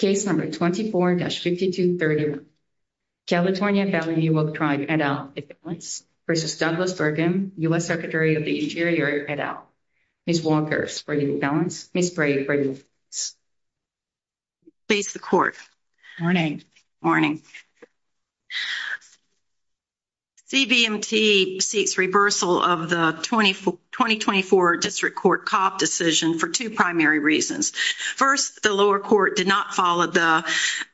v. Douglas Burgum U.S. Secretary of the Interior et al. Ms. Walker, for you, balance. Ms. Bray, for you, balance. Blase, the court. Morning. Morning. CVMT seeks reversal of the 2024 District Court Cop decision for two primary reasons. First, the lower court did not follow the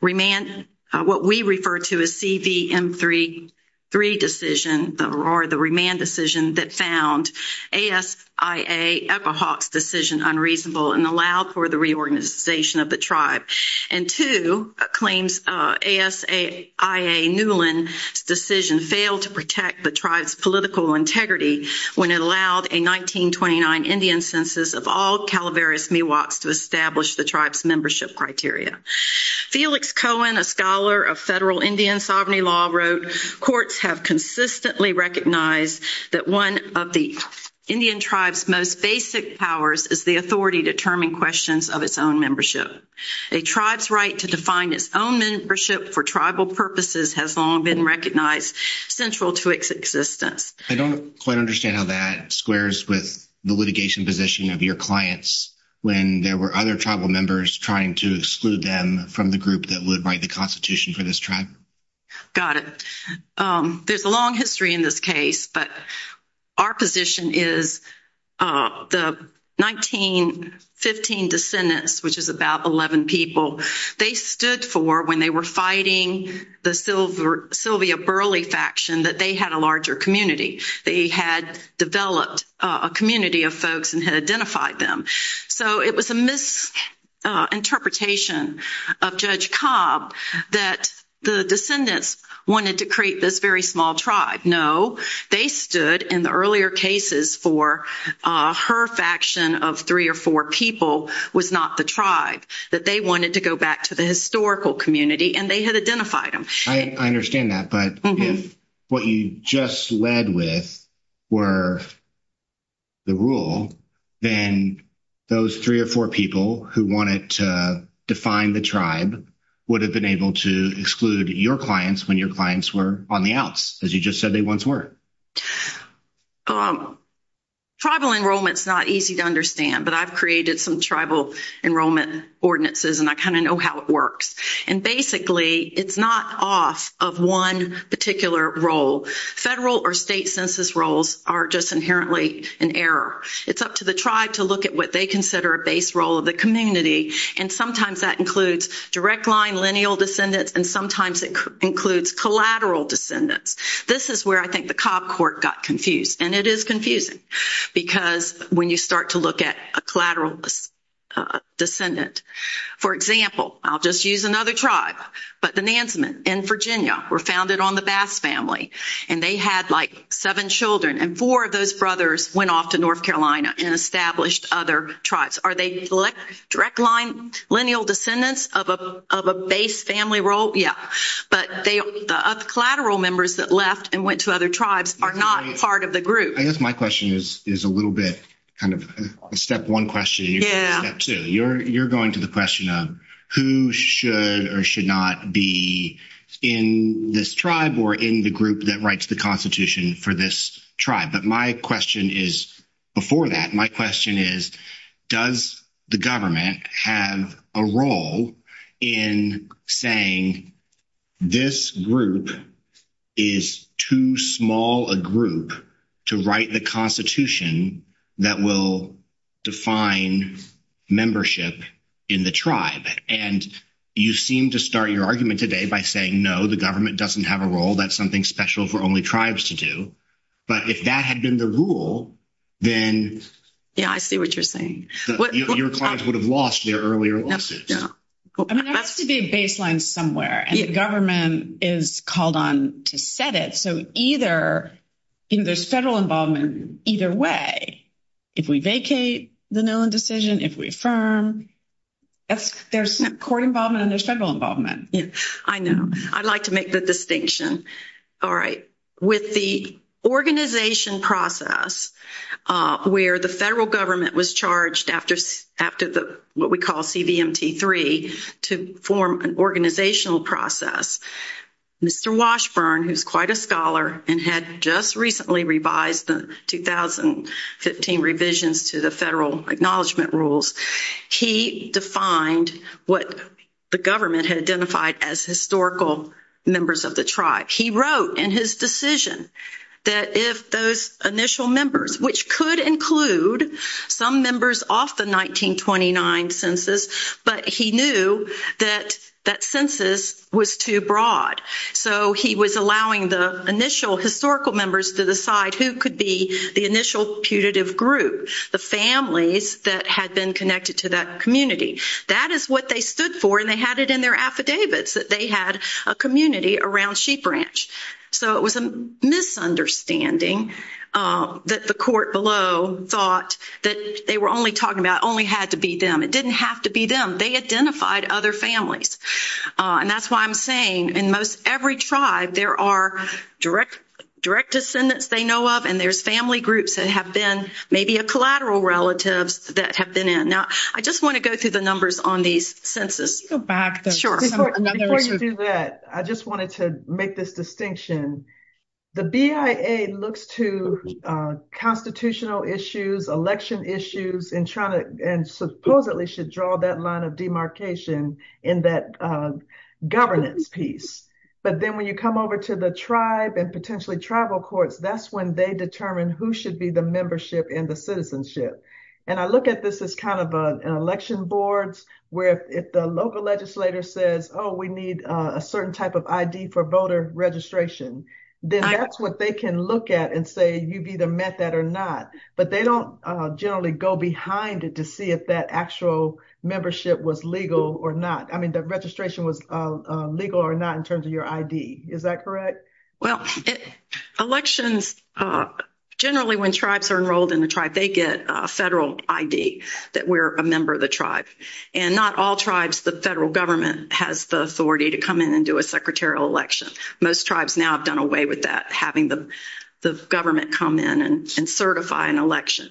remand, what we refer to as CVM3 decision, or the remand decision, that found ASIA-Epawhawks' decision unreasonable and allowed for the reorganization of the District Court. And two, claims ASIA-Newland's decision failed to protect the tribe's political integrity when it allowed a 1929 Indian census of all Calaveras Miwoks to establish the tribe's membership criteria. Felix Cohen, a scholar of federal Indian sovereignty law, wrote, courts have consistently recognized that one of the Indian tribe's most basic powers is the authority to determine questions of its own membership. A tribe's right to define its own membership for tribal purposes has long been recognized central to its existence. I don't quite understand how that squares with the litigation position of your clients when there were other tribal members trying to exclude them from the group that would write the Constitution for this tribe. Got it. There's a long history in this case, but our position is the 1915 descendants, which is about 11 people, they stood for when they were fighting the Sylvia Burley faction, that they had a larger community. They had developed a community of folks and had identified them. So it was a misinterpretation of Judge Cobb that the descendants wanted to create this very small tribe. No, they stood in the earlier cases for her faction of three or four people was not the tribe, that they wanted to go back to the historical community and they had identified them. I understand that, but if what you just led with were the rule, then those three or four people who wanted to define the tribe would have been able to exclude your clients when your clients were on the outs, as you just said they once were. Tribal enrollment is not easy to understand, but I've created some tribal enrollment ordinances and I kind of know how it works. Basically, it's not off of one particular role. Federal or state census roles are just inherently an error. It's up to the tribe to look at what they consider a base role of the community, and sometimes that includes direct line lineal descendants and sometimes it includes collateral descendants. This is where I think the Cobb court got confused, and it is confusing, because when you start to look at a collateral descendant. For example, I'll just use another tribe, but the Nansman in Virginia were founded on the Bass family, and they had like seven children, and four of those brothers went off to North Carolina and established other tribes. Are they direct line lineal descendants of a base family role? Yeah. But the collateral members that left and went to other tribes are not part of the group. I guess my question is, is a little bit kind of a step 1 question. Step 2, you're going to the question of who should or should not be in this tribe or in the group that writes the constitution for this tribe. But my question is, before that, my question is, does the government have a role in saying this group is too small a group to write the constitution that will define membership in the tribe? And you seem to start your argument today by saying, no, the government doesn't have a role. That's something special for only tribes to do. But if that had been the rule, then yeah, I see what you're saying. Your clients would have lost their earlier lawsuits. I mean, there has to be a baseline somewhere and the government is called on to set it. So either there's federal involvement either way. If we vacate the Nolan decision, if we affirm. There's court involvement and there's federal involvement. I know I'd like to make the distinction. All right, with the organization process, where the federal government was charged after what we call CVMT 3 to form an organizational process. Mr. Washburn, who's quite a scholar and had just recently revised the 2015 revisions to the federal acknowledgement rules. He defined what the government had identified as historical members of the tribe. He wrote in his decision that if those initial members, which could include some members off the 1929 census, but he knew that that census was too broad. So he was allowing the initial historical members to decide who could be the initial putative group, the families that had been connected to that community. That is what they stood for and they had it in their affidavits that they had a community around Sheep Ranch. So it was a misunderstanding that the court below thought that they were only talking about only had to be them. It didn't have to be them. They identified other families. And that's why I'm saying in most every tribe there are direct descendants they know of and there's family groups that have been maybe a collateral relatives that have been in. Now, I just want to go through the numbers on these census. Go back to that. I just wanted to make this distinction. The BIA looks to constitutional issues, election issues in China and supposedly should draw that line of demarcation in that governance piece. But then when you come over to the tribe and potentially tribal courts, that's when they determine who should be the membership in the citizenship. And I look at this as kind of an election boards where if the local legislator says, oh, we need a certain type of ID for voter registration, then that's what they can look at and say, you've either met that or not. But they don't generally go behind it to see if that actual membership was legal or not. I mean, the registration was legal or not in terms of your ID. Is that correct? Well, elections generally when tribes are enrolled in the tribe, they get a federal ID that we're a member of the tribe and not all tribes. The federal government has the authority to come in and do a secretarial election. Most tribes now have done away with that, having the government come in and certify an election.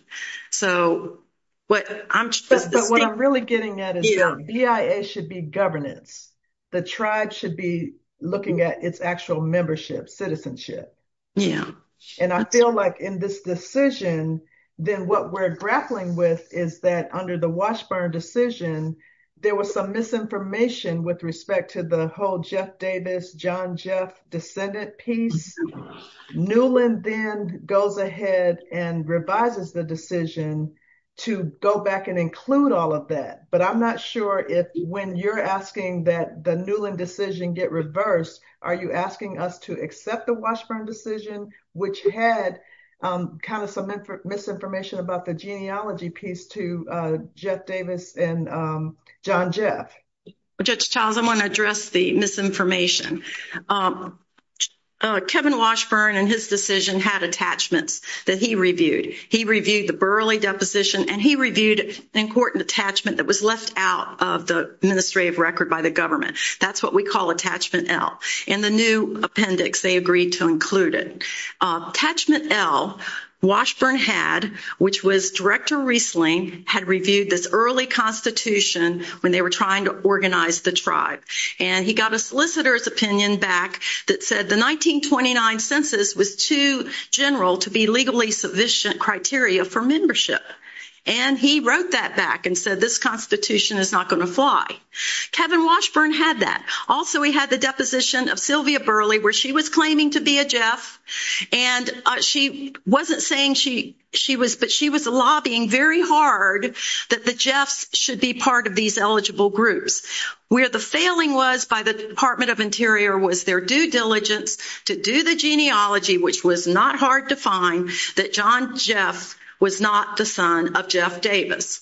But what I'm really getting at is BIA should be governance. The tribe should be looking at its actual membership citizenship. And I feel like in this decision, then what we're grappling with is that under the Washburn decision, there was some misinformation with respect to the whole Jeff Davis, John Jeff descendant piece. Newland then goes ahead and revises the decision to go back and include all of that. But I'm not sure if when you're asking that the Newland decision get reversed. Are you asking us to accept the Washburn decision, which had kind of some misinformation about the genealogy piece to Jeff Davis and John Jeff? Judge Childs, I want to address the misinformation. Kevin Washburn and his decision had attachments that he reviewed. He reviewed the burly deposition and he reviewed an important attachment that was left out of the administrative record by the government. That's what we call attachment L and the new appendix. Attachment L, Washburn had, which was director Riesling, had reviewed this early constitution when they were trying to organize the tribe. And he got a solicitor's opinion back that said the 1929 census was too general to be legally sufficient criteria for membership. And he wrote that back and said, this constitution is not going to fly. Kevin Washburn had that. Also, we had the deposition of Sylvia Burley, where she was claiming to be a Jeff. And she wasn't saying she was, but she was lobbying very hard that the Jeffs should be part of these eligible groups. Where the failing was by the Department of Interior was their due diligence to do the genealogy, which was not hard to find that John Jeff was not the son of Jeff Davis.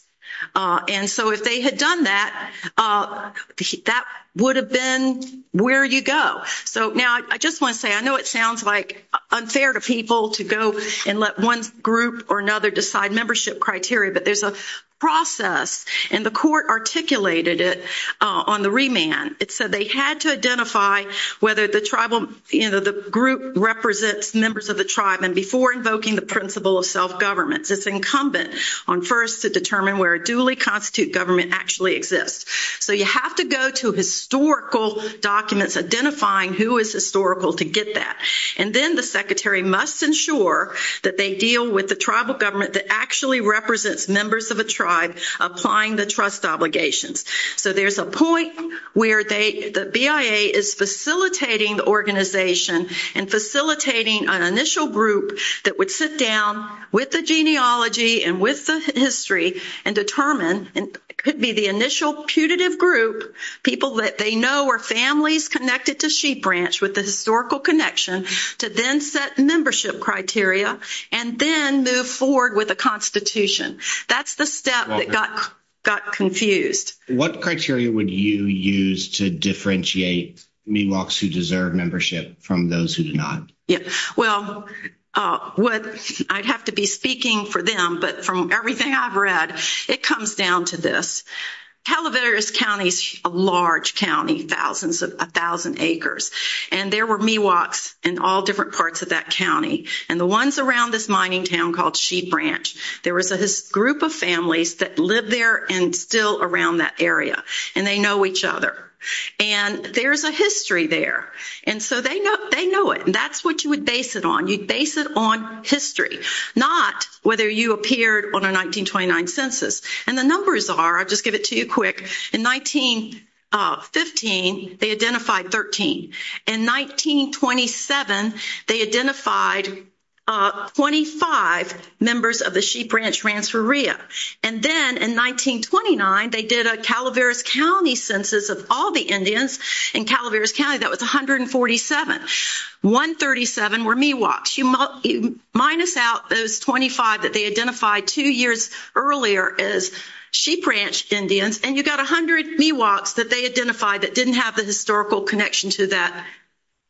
And so if they had done that, that would have been where you go. So now I just want to say, I know it sounds like unfair to people to go and let one group or another decide membership criteria, but there's a process and the court articulated it on the remand. It said they had to identify whether the tribal, you know, the group represents members of the tribe. And before invoking the principle of self-government, it's incumbent on first to determine where a duly constitute government actually exists. So you have to go to historical documents identifying who is historical to get that. And then the secretary must ensure that they deal with the tribal government that actually represents members of a tribe applying the trust obligations. So there's a point where the BIA is facilitating the organization and facilitating an initial group that would sit down with the genealogy and with the history and determine it could be the initial putative group, people that they know are families connected to Sheep Branch with the historical connection, to then set membership criteria and then move forward with a constitution. That's the step that got confused. What criteria would you use to differentiate Miwoks who deserve membership from those who do not? Well, I'd have to be speaking for them, but from everything I've read, it comes down to this. Calaveras County is a large county, thousands of, a thousand acres, and there were Miwoks in all different parts of that county. And the ones around this mining town called Sheep Branch, there was a group of families that lived there and still around that area. And they know each other. And there's a history there. And so they know it. And that's what you would base it on. You'd base it on history, not whether you appeared on a 1929 census. And the numbers are, I'll just give it to you quick, in 1915, they identified 13. In 1927, they identified 25 members of the Sheep Branch Ransforia. And then in 1929, they did a Calaveras County census of all the Indians in Calaveras County. That was 147. 137 were Miwoks. You minus out those 25 that they identified two years earlier as Sheep Branch Indians, and you got 100 Miwoks that they identified that didn't have the historical connection to that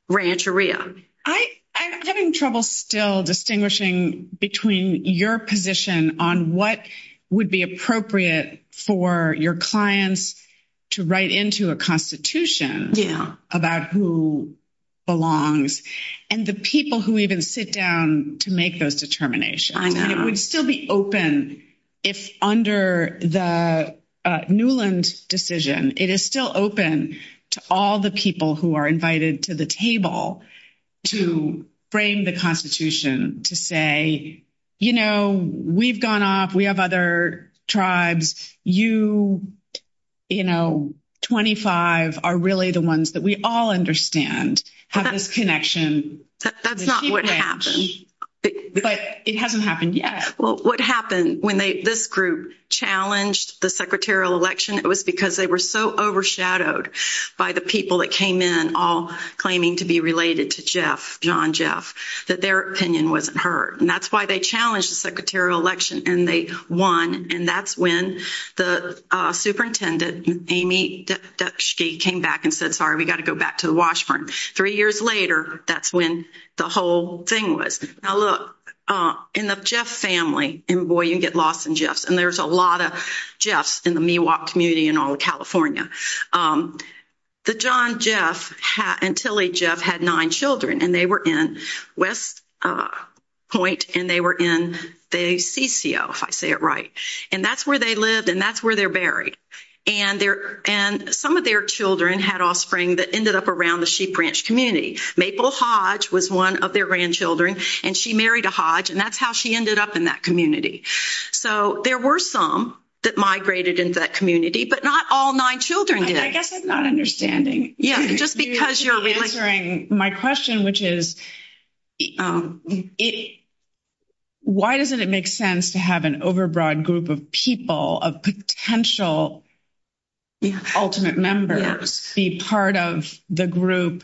ranch area. I'm having trouble still distinguishing between your position on what would be appropriate for your clients to write into a constitution about who belongs, and the people who even sit down to make those determinations. And it would still be open if under the Newland decision, it is still open to all the people who are invited to the table to frame the constitution to say, you know, we've gone off. We have other tribes. You, you know, 25 are really the ones that we all understand have this connection to the Sheep Branch. But it hasn't happened yet. Well, what happened when this group challenged the secretarial election, it was because they were so overshadowed by the people that came in all claiming to be related to Jeff, John Jeff, that their opinion wasn't heard. And that's why they challenged the secretarial election, and they won. And that's when the superintendent, Amy Dutschke, came back and said, sorry, we've got to go back to the washroom. Three years later, that's when the whole thing was. Now, look, in the Jeff family, and boy, you get lost in Jeff's, and there's a lot of Jeff's in the Miwok community in all of California. The John Jeff and Tilly Jeff had nine children, and they were in West Point, and they were in the CCO, if I say it right. And that's where they lived, and that's where they're buried. And some of their children had offspring that ended up around the Sheep Branch community. Maple Hodge was one of their grandchildren, and she married a Hodge, and that's how she ended up in that community. So there were some that migrated into that community, but not all nine children did. I guess I'm not understanding. You're answering my question, which is, why doesn't it make sense to have an overbroad group of people, of potential ultimate members, be part of the group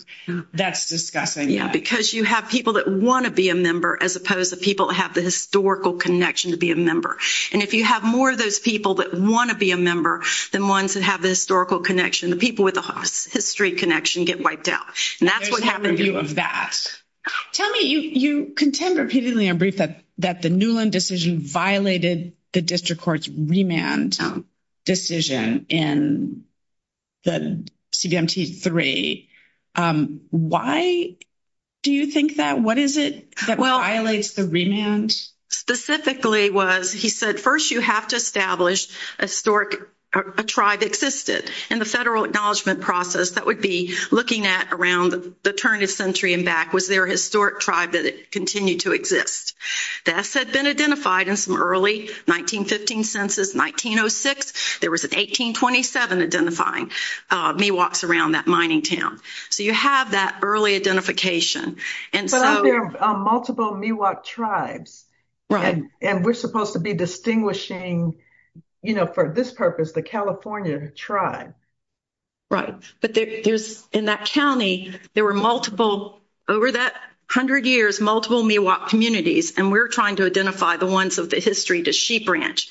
that's discussing that? Yeah, because you have people that want to be a member, as opposed to people that have the historical connection to be a member. And if you have more of those people that want to be a member than ones that have the historical connection, the people with the history connection get wiped out. And that's what happened to me. Tell me, you contend repeatedly on brief that the Newland decision violated the district court's remand decision in the CBMT-3. Why do you think that? What is it that violates the remand? Specifically was, he said, first you have to establish a tribe that existed. And the federal acknowledgment process, that would be looking at around the turn of the century and back, was there a historic tribe that continued to exist? This had been identified in some early 1915 census, 1906. There was an 1827 identifying Miwoks around that mining town. So you have that early identification. But aren't there multiple Miwok tribes? And we're supposed to be distinguishing, you know, for this purpose, the California tribe. Right. But there's, in that county, there were multiple, over that hundred years, multiple Miwok communities. And we're trying to identify the ones of the history to Sheep Ranch.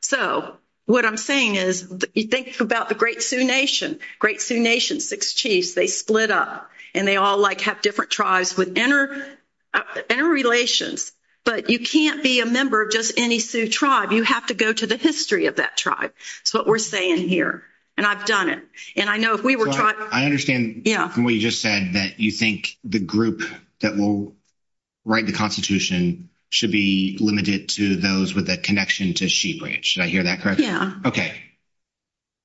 So what I'm saying is, you think about the Great Sioux Nation, Great Sioux Nation, six chiefs, they split up. And they all, like, have different tribes with interrelations. But you can't be a member of just any Sioux tribe. You have to go to the history of that tribe. That's what we're saying here. And I've done it. And I know if we were tribe. I understand what you just said, that you think the group that will write the Constitution should be limited to those with a connection to Sheep Ranch. Did I hear that correctly? Okay.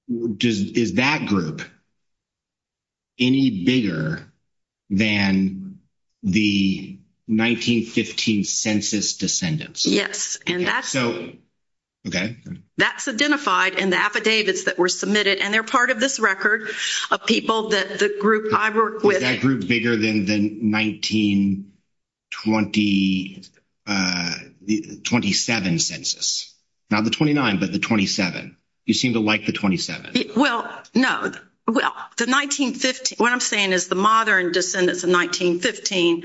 Is that group any bigger than the 1915 census descendants? Yes. Okay. That's identified in the affidavits that were submitted. And they're part of this record of people that the group I work with. Was that group bigger than the 1927 census? Not the 29, but the 27. You seem to like the 27. Well, no. Well, the 1915, what I'm saying is the modern descendants of 1915,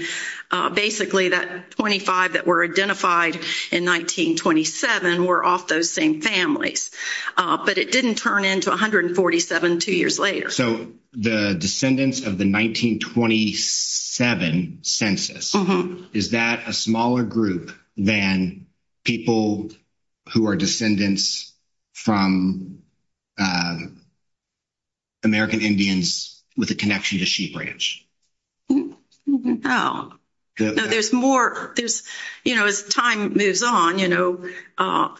basically that 25 that were identified in 1927 were off those same families. But it didn't turn into 147 two years later. So the descendants of the 1927 census, is that a smaller group than people who are descendants from American Indians with a connection to Sheep Ranch? No. No, there's more. There's, you know, as time moves on, you know,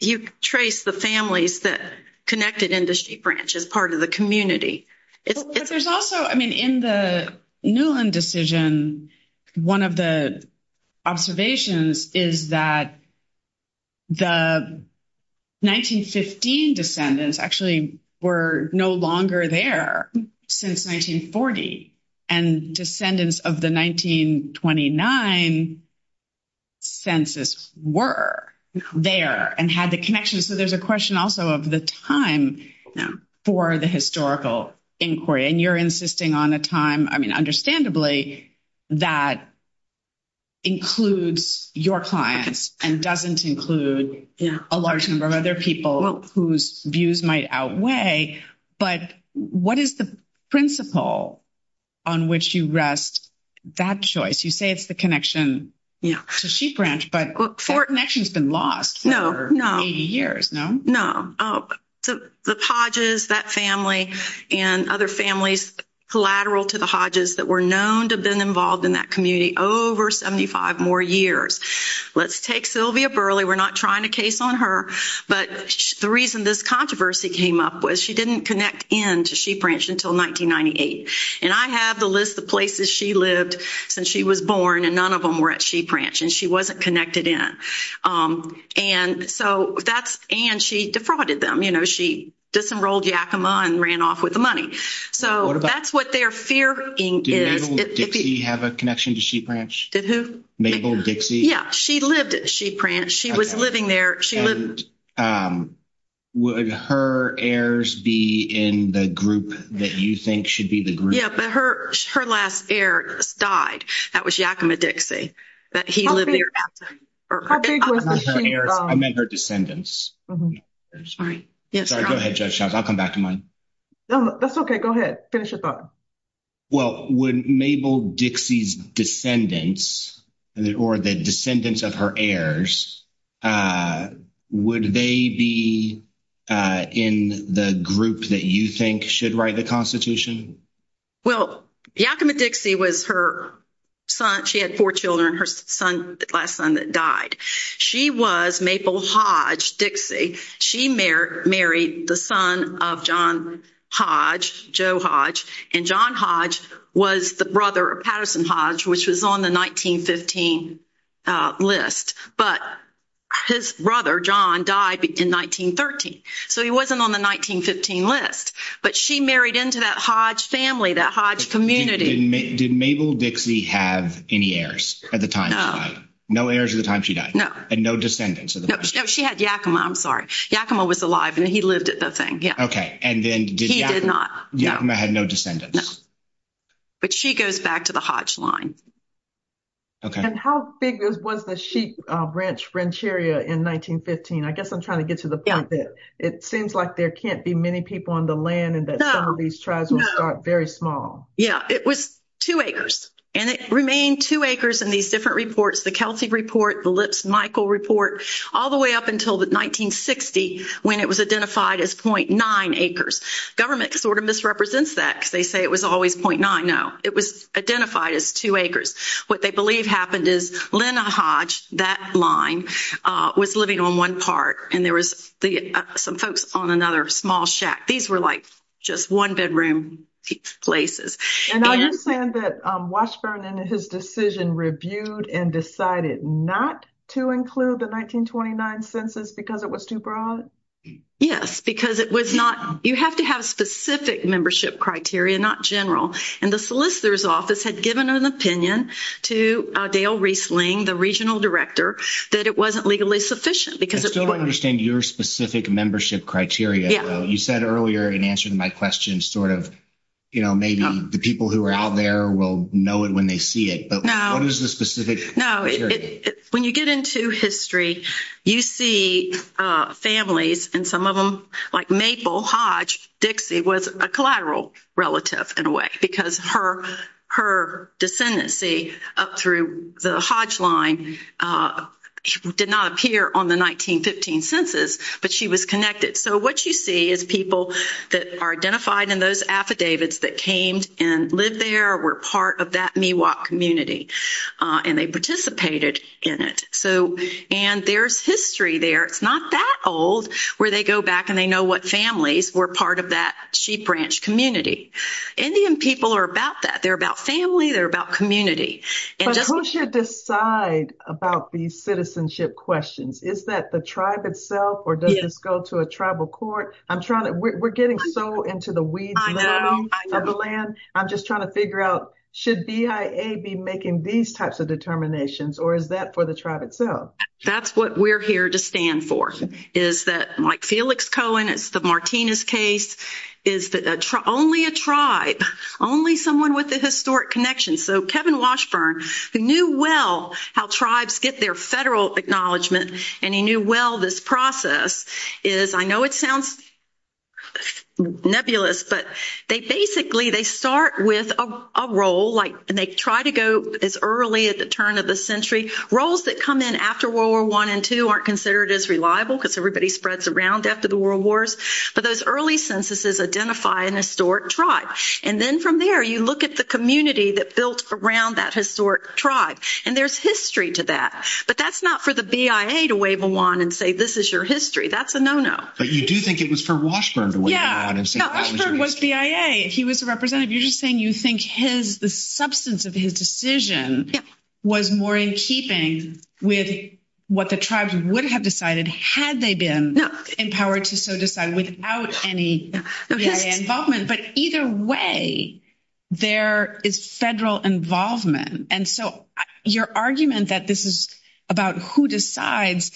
you trace the families that connected into Sheep Ranch as part of the community. But there's also, I mean, in the Newland decision, one of the observations is that the 1915 descendants actually were no longer there since 1940 and descendants of the 1929 census were there and had the connection. So there's a question also of the time for the historical inquiry. And you're insisting on a time, I mean, understandably that includes your clients and doesn't include a large number of other people whose views might outweigh. But what is the principle on which you rest that choice? You say it's the connection to Sheep Ranch, but that connection has been lost for 80 years, no? The Hodges, that family, and other families collateral to the Hodges that were known to have been involved in that community over 75 more years. Let's take Sylvia Burley. We're not trying to case on her. But the reason this controversy came up was she didn't connect in to Sheep Ranch until 1998. And I have the list of places she lived since she was born, and none of them were at Sheep Ranch, and she wasn't connected in. And she defrauded them. You know, she disenrolled Yakima and ran off with the money. So that's what they're fearing. Did Mabel Dixie have a connection to Sheep Ranch? Did who? Mabel Dixie. Yeah, she lived at Sheep Ranch. She was living there. And would her heirs be in the group that you think should be the group? Yeah, but her last heir just died. That was Yakima Dixie. How big was the Sheep Ranch? I meant her descendants. Sorry. Go ahead, Judge Charles. I'll come back to mine. That's okay. Go ahead. Finish your thought. Well, would Mabel Dixie's descendants or the descendants of her heirs, would they be in the group that you think should write the Constitution? Well, Yakima Dixie was her son. She had four children, her son, the last son that died. She was Mabel Hodge Dixie. She married the son of John Hodge, Joe Hodge, and John Hodge was the brother of Patterson Hodge, which was on the 1915 list. But his brother, John, died in 1913, so he wasn't on the 1915 list. But she married into that Hodge family, that Hodge community. Did Mabel Dixie have any heirs at the time she died? No. No heirs at the time she died? No. And no descendants? No, she had Yakima. I'm sorry. Yakima was alive and he lived at the thing. Okay. He did not. Yakima had no descendants. No. But she goes back to the Hodge line. Okay. And how big was the Sheep Ranch area in 1915? I guess I'm trying to get to the point that it seems like there can't be many people on the land and that some of these tribes were very small. Yeah, it was two acres. And it remained two acres in these different reports, the Kelsey report, the Lips-Michael report, all the way up until 1960, when it was identified as .9 acres. Government sort of misrepresents that because they say it was always .9. No, it was identified as two acres. What they believe happened is Lena Hodge, that line, was living on one part, and there was some folks on another small shack. These were like just one-bedroom places. And now you're saying that Washburn and his decision reviewed and decided not to include the 1929 census because it was too broad? Yes, because it was not – you have to have specific membership criteria, not general. And the solicitor's office had given an opinion to Dale Reisling, the regional director, that it wasn't legally sufficient. I still don't understand your specific membership criteria. You said earlier in answer to my question sort of, you know, maybe the people who are out there will know it when they see it. But what is the specific criteria? No, when you get into history, you see families, and some of them, like Maple, Hodge, Dixie was a collateral relative in a way because her descendancy up through the Hodge line did not appear on the 1915 census, but she was connected. So what you see is people that are identified in those affidavits that came and lived there or were part of that Miwok community, and they participated in it. And there's history there. It's not that old where they go back and they know what families were part of that sheep ranch community. Indian people are about that. They're about family. They're about community. But who should decide about these citizenship questions? Is that the tribe itself or does this go to a tribal court? We're getting so into the weeds now of the land. I'm just trying to figure out should BIA be making these types of determinations or is that for the tribe itself? That's what we're here to stand for is that, like Felix Cohen, it's the Martinez case, is that only a tribe, only someone with a historic connection. So Kevin Washburn, who knew well how tribes get their federal acknowledgement and he knew well this process is, I know it sounds nebulous, but they basically start with a role, and they try to go as early at the turn of the century. Roles that come in after World War I and II aren't considered as reliable because everybody spreads around after the world wars, but those early censuses identify an historic tribe. And then from there, you look at the community that built around that historic tribe, and there's history to that. But that's not for the BIA to wave a wand and say, this is your history. That's a no-no. But you do think it was for Washburn to wave a wand and say, that was your history. Yeah, Washburn was BIA. He was a representative. You're just saying you think the substance of his decision was more in keeping with what the tribes would have decided had they been empowered to so decide without any BIA involvement. But either way, there is federal involvement. And so your argument that this is about who decides,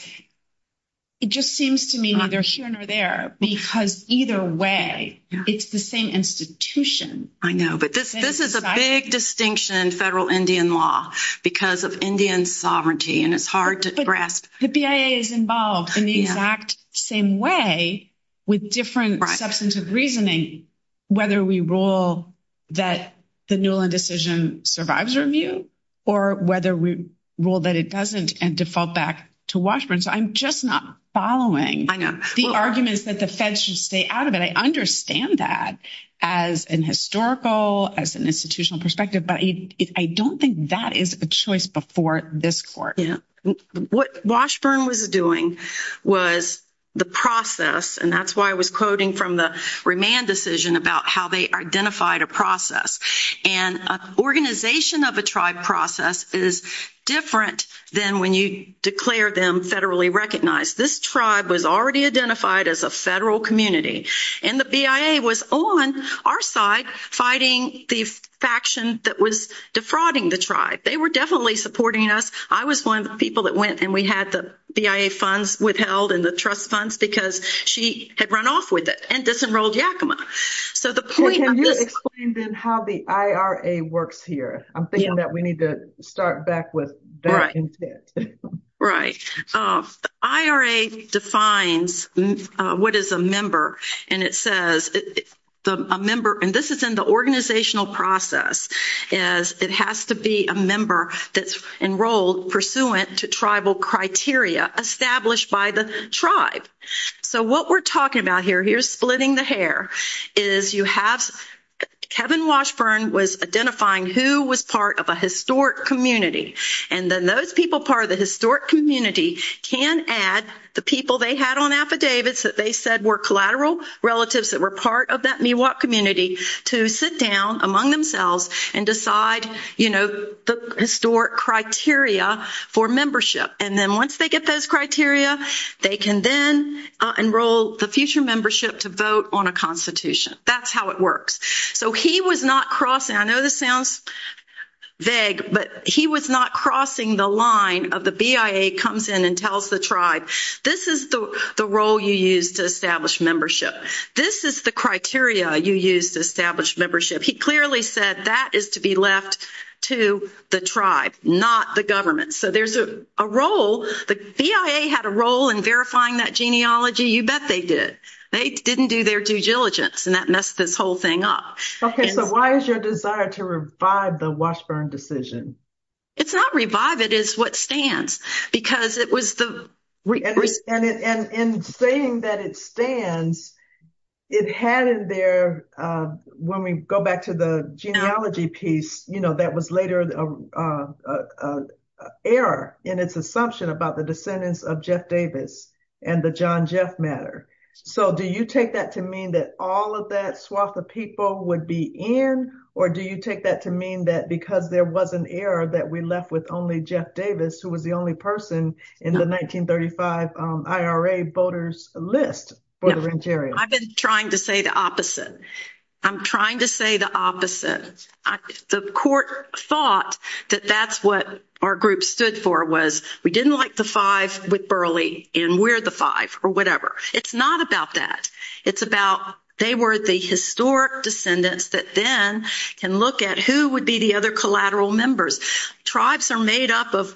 it just seems to me neither here nor there, because either way, it's the same institution. I know. But this is a big distinction in federal Indian law because of Indian sovereignty, and it's hard to grasp. The BIA is involved in the exact same way with different substantive reasoning, whether we rule that the Newland decision survives review, or whether we rule that it doesn't and default back to Washburn. So I'm just not following the arguments that the feds should stay out of it. I understand that as an historical, as an institutional perspective, but I don't think that is a choice before this court. What Washburn was doing was the process, and that's why I was quoting from the remand decision about how they identified a process. And an organization of a tribe process is different than when you declare them federally recognized. This tribe was already identified as a federal community, and the BIA was on our side fighting the faction that was defrauding the tribe. They were definitely supporting us. I was one of the people that went and we had the BIA funds withheld and the BIA had run off with it and disenrolled Yakima. So the point of this. Can you explain then how the IRA works here? I'm thinking that we need to start back with that intent. Right. The IRA defines what is a member, and it says a member, and this is in the organizational process, is it has to be a member that's enrolled pursuant to tribal criteria established by the tribe. So what we're talking about here, here's splitting the hair, is you have Kevin Washburn was identifying who was part of a historic community, and then those people part of the historic community can add the people they had on affidavits that they said were collateral relatives that were part of that Miwok community to sit down among themselves and decide, you know, the historic criteria for membership. And then once they get those criteria, they can then enroll the future membership to vote on a constitution. That's how it works. So he was not crossing, I know this sounds vague, but he was not crossing the line of the BIA comes in and tells the tribe, this is the role you use to establish membership. This is the criteria you use to establish membership. He clearly said that is to be left to the tribe, not the government. So there's a role, the BIA had a role in verifying that genealogy. You bet they did. They didn't do their due diligence, and that messed this whole thing up. Okay, so why is your desire to revive the Washburn decision? It's not revive, it is what stands. Because it was the. And in saying that it stands, it had in there, when we go back to the genealogy piece, you know, that was later error in its assumption about the descendants of Jeff Davis and the John Jeff matter. So do you take that to mean that all of that swath of people would be in, or do you take that to mean that because there was an error that we left with only Jeff Davis, who was the only person in the 1935 IRA voters list? I've been trying to say the opposite. I'm trying to say the opposite. The court thought that that's what our group stood for, was we didn't like the five with Burley, and we're the five, or whatever. It's not about that. It's about they were the historic descendants that then can look at who would be the other collateral members. Tribes are made up of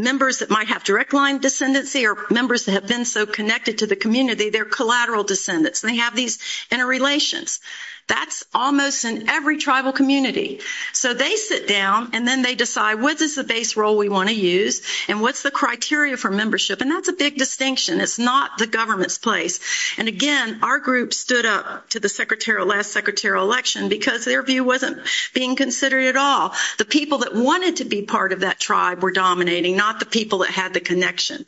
members that might have direct line descendancy or members that have been so connected to the community, they're collateral descendants, and they have these interrelations. That's almost in every tribal community. So they sit down and then they decide what is the base role we want to use and what's the criteria for membership, and that's a big distinction. It's not the government's place. And, again, our group stood up to the last secretary of election because their view wasn't being considered at all. The people that wanted to be part of that tribe were dominating, not the people that had the connection.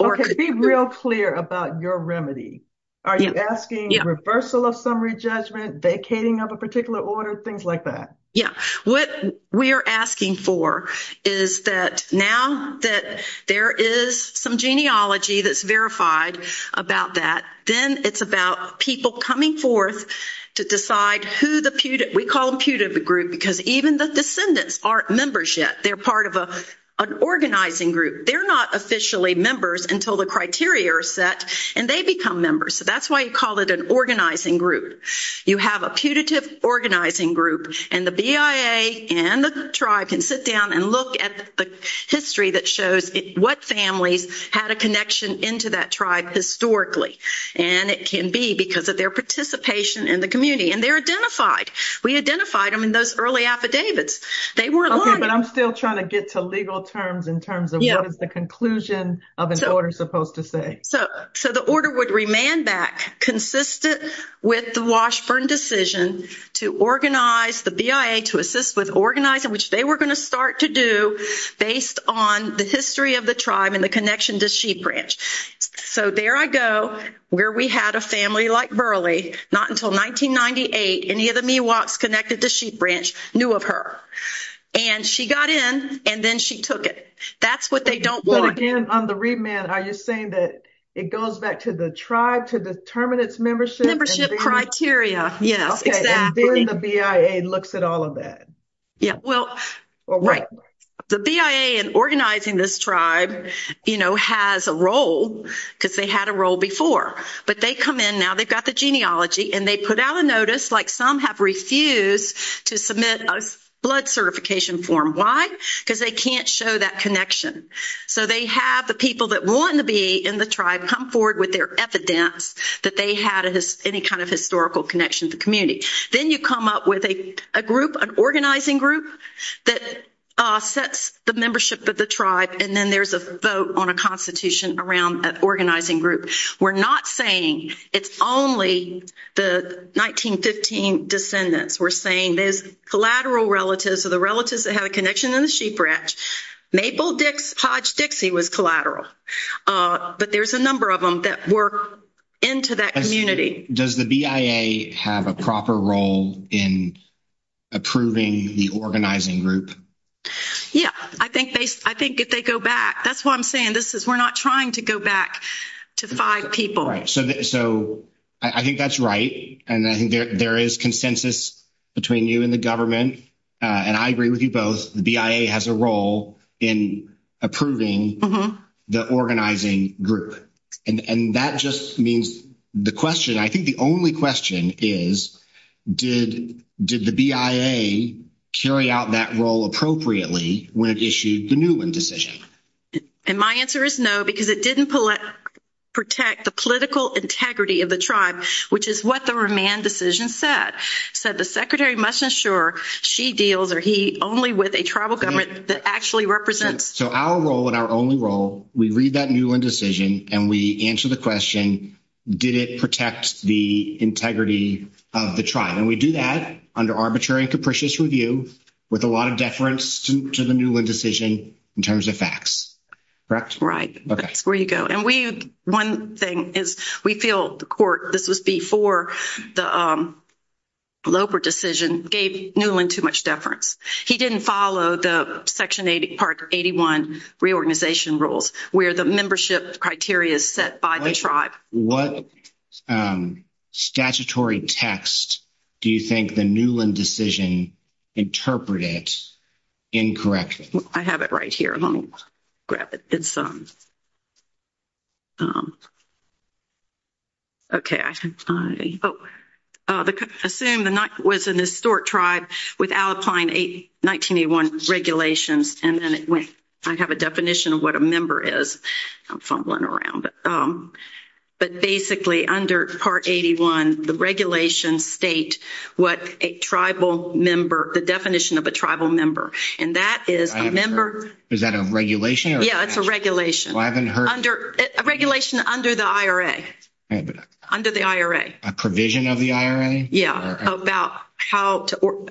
Okay, be real clear about your remedy. Are you asking reversal of summary judgment, vacating of a particular order, things like that? Yeah. What we are asking for is that now that there is some genealogy that's verified about that, then it's about people coming forth to decide who the – we call them putative group because even the descendants aren't members yet. They're part of an organizing group. They're not officially members until the criteria are set, and they become members. So that's why you call it an organizing group. You have a putative organizing group, and the BIA and the tribe can sit down and look at the history that shows what families had a connection into that tribe historically, and it can be because of their participation in the community. And they're identified. We identified them in those early affidavits. They weren't lying. Okay, but I'm still trying to get to legal terms in terms of what is the conclusion of an order supposed to say. So the order would remand back consistent with the Washburn decision to organize the BIA to assist with organizing, which they were going to start to do based on the history of the tribe and the connection to Sheep Branch. So there I go, where we had a family like Burleigh, not until 1998, any of the Miwoks connected to Sheep Branch knew of her. And she got in, and then she took it. That's what they don't want. So again, on the remand, are you saying that it goes back to the tribe to determine its membership? Membership criteria, yes, exactly. And then the BIA looks at all of that. Yeah, well, right. The BIA in organizing this tribe, you know, has a role, because they had a role before. But they come in now, they've got the genealogy, and they put out a notice like some have refused to submit a blood certification form. Why? Because they can't show that connection. So they have the people that want to be in the tribe come forward with their evidence that they had any kind of historical connection to the community. Then you come up with a group, an organizing group, that sets the membership of the tribe, and then there's a vote on a constitution around an organizing group. We're not saying it's only the 1915 descendants. We're saying there's collateral relatives or the relatives that had a connection in the Sheep Branch. Maple Dix, Hodge Dixie was collateral. But there's a number of them that were into that community. Does the BIA have a proper role in approving the organizing group? Yeah. I think if they go back, that's why I'm saying this, is we're not trying to go back to five people. So I think that's right, and I think there is consensus between you and the government, and I agree with you both. The BIA has a role in approving the organizing group, and that just means the question, I think the only question is did the BIA carry out that role appropriately when it issued the Newman decision? And my answer is no, because it didn't protect the political integrity of the tribe, which is what the remand decision said. It said the secretary must ensure she deals or he only with a tribal government that actually represents. So our role and our only role, we read that Newman decision and we answer the question, did it protect the integrity of the tribe? And we do that under arbitrary and capricious review with a lot of deference to the Newman decision in terms of facts. Correct? Right. That's where you go. One thing is we feel the court, this was before the Loper decision gave Newman too much deference. He didn't follow the section part 81 reorganization rules where the membership criteria is set by the tribe. What statutory text do you think the Newman decision interpreted incorrectly? I have it right here. Let me grab it. Okay. Assume the was an historic tribe with Alpine 1981 regulations. And then I have a definition of what a member is. I'm fumbling around. But basically under part 81, the regulations state what a tribal member, the definition of a tribal member. And that is a member. Is that a regulation? Yeah, it's a regulation. I haven't heard. A regulation under the IRA. Under the IRA. A provision of the IRA? Yeah.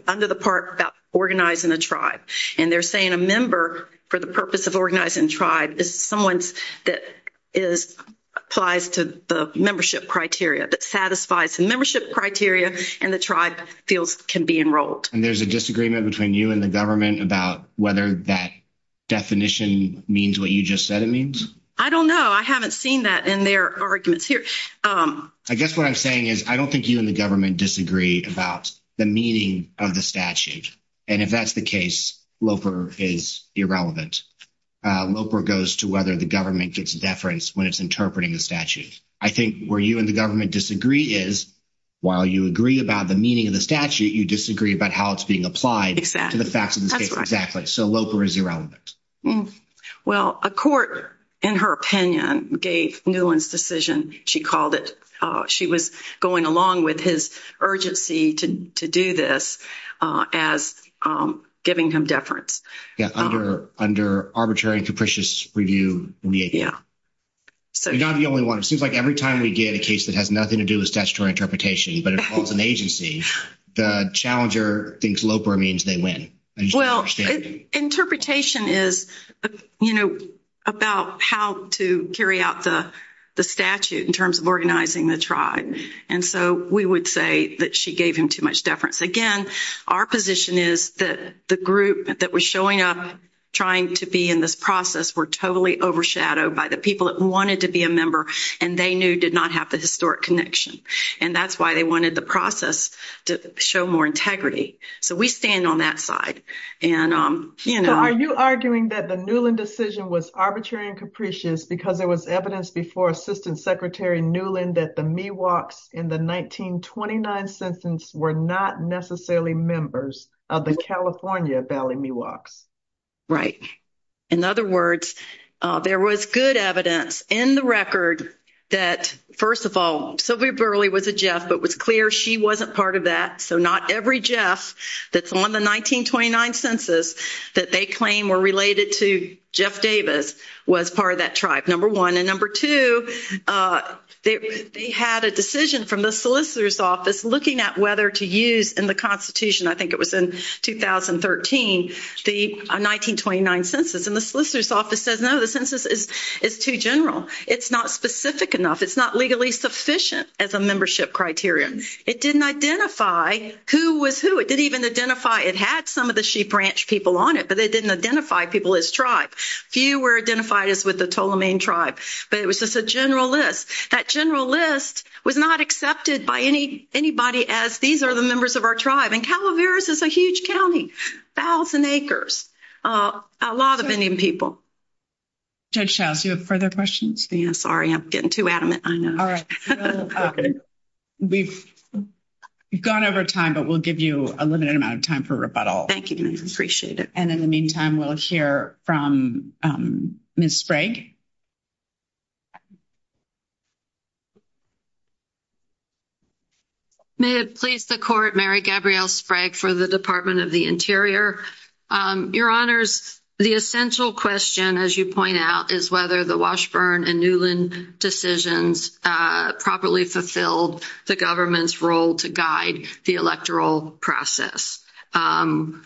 Under the part about organizing a tribe. And they're saying a member for the purpose of organizing a tribe is someone that applies to the membership criteria, that satisfies the membership criteria and the tribe can be enrolled. And there's a disagreement between you and the government about whether that definition means what you just said it means. I don't know. I haven't seen that in their arguments here. I guess what I'm saying is I don't think you and the government disagree about the meaning of the statute. And if that's the case, Loper is irrelevant. Loper goes to whether the government gets deference when it's interpreting the statute. I think where you and the government disagree is while you agree about the meaning of the statute, you disagree about how it's being applied to the facts of the case. So Loper is irrelevant. Well, a court, in her opinion, gave Newland's decision. She called it, she was going along with his urgency to do this as giving him deference. Yeah. Under arbitrary and capricious review. Yeah. So you're not the only one. It seems like every time we get a case that has nothing to do with statutory interpretation but involves an agency, the challenger thinks Loper means they win. Well, interpretation is, you know, about how to carry out the statute in terms of organizing the tribe. And so we would say that she gave him too much deference. Again, our position is that the group that was showing up trying to be in this process were totally overshadowed by the people that wanted to be a member and they knew did not have the historic connection. And that's why they wanted the process to show more integrity. So we stand on that side. And, you know, are you arguing that the Newland decision was arbitrary and capricious because there was evidence before assistant secretary Newland that the me walks in the 1929 sentence were not necessarily members of the California Valley me walks. Right. In other words, there was good evidence in the record that, first of all, Sylvia Burley was a Jeff, but it was clear she wasn't part of that. So not every Jeff that's on the 1929 census that they claim were related to Jeff Davis was part of that tribe. Number one. And number two, they had a decision from the solicitor's office looking at whether to use in the constitution. I think it was in 2013, the 1929 census and the solicitor's office says, no, the census is too general. It's not specific enough. It's not legally sufficient as a membership criteria. It didn't identify who was who. It didn't even identify. It had some of the sheep ranch people on it, but they didn't identify people as tribe. Few were identified as with the total main tribe, but it was just a general list. That general list was not accepted by any, anybody as these are the members of our tribe. And Calaveras is a huge county, thousand acres, a lot of Indian people. Judge Shouse, you have further questions. Yeah, I know we've gone over time, but we'll give you a limited amount of time for rebuttal. Thank you. Appreciate it. And in the meantime, we'll hear from Ms. Please the court, Mary Gabrielle Sprague for the department of the interior, your honors. The essential question, as you point out is whether the Washburn and Newland decisions, uh, properly fulfilled the government's role to guide the electoral process. Um,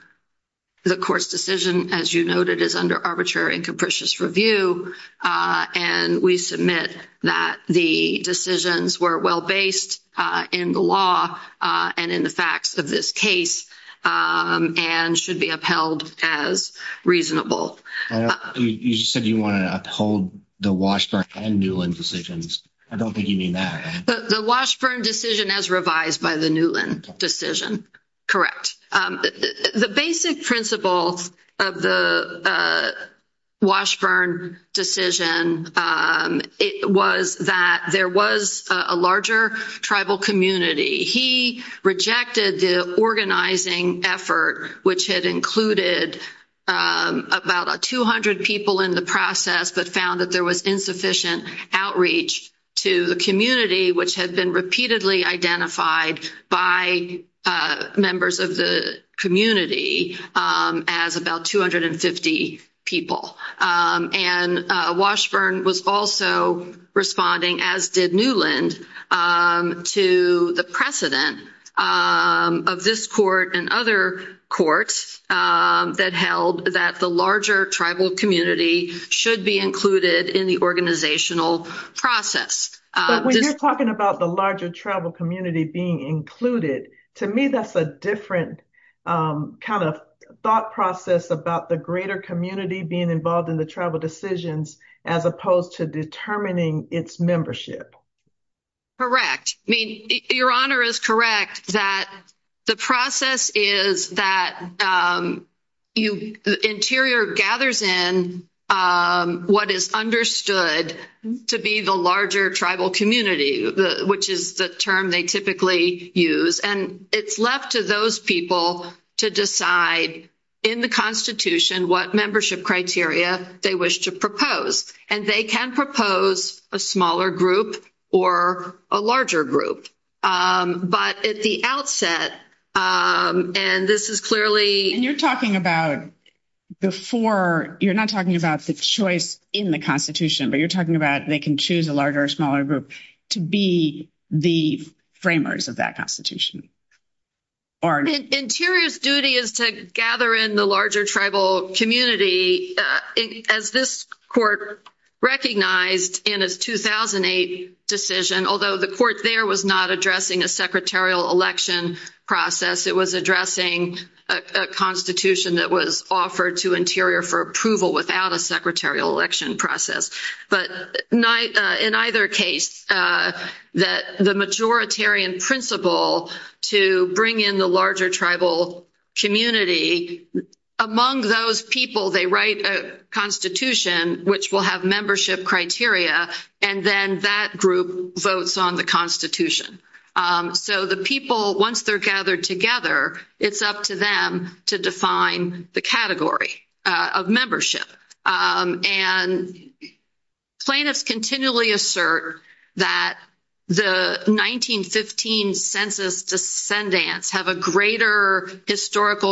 the court's decision, as you noted is under arbitrary and capricious review. Uh, and we submit that the decisions were well-based, uh, in the law, uh, and in the facts of this case, um, and should be upheld as reasonable. You said you want to uphold the Washburn and Newland decisions. I don't think you mean that. The Washburn decision as revised by the Newland decision. Um, the basic principles of the, uh, Washburn decision. Um, it was that there was a larger tribal community. He rejected the organizing effort, which had included, um, about 200 people in the process, but found that there was insufficient outreach to the community, which had been repeatedly identified by, uh, members of the community, um, as about 250 people. Um, and, uh, Washburn was also responding as did Newland, um, to the precedent, um, of this court and other courts, um, that held that the larger tribal community should be included in the organizational process. But when you're talking about the larger tribal community being included, to me, that's a different, um, kind of thought process about the greater community being involved in the tribal decisions, as opposed to determining its membership. Correct. I mean, your honor is correct that the process is that, you interior gathers in, um, what is understood to be the larger tribal community, which is the term they typically use. And it's left to those people to decide in the constitution, what membership criteria they wish to propose. And they can propose a smaller group or a larger group. but at the outset, um, and this is clearly, and you're talking about before, you're not talking about the choice in the constitution, but you're talking about, they can choose a larger or smaller group to be the framers of that constitution. Interior's duty is to gather in the larger tribal community. Uh, as this court recognized in his 2008 decision, although the court there was not addressing a secretarial election process, it was addressing a constitution that was offered to interior for approval without a secretarial election process. But in either case, uh, that the majoritarian principle to bring in the larger tribal community among those people, they write a constitution, which will have membership criteria. And then that group votes on the constitution. Um, so the people, once they're gathered together, it's up to them to define the category, uh, of membership. and plaintiffs continually assert that the 1915 census descendants have a greater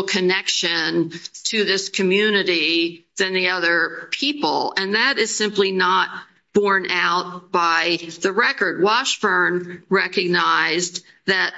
connection to this community than the other people. And that is simply not borne out by the record. Washburn recognized that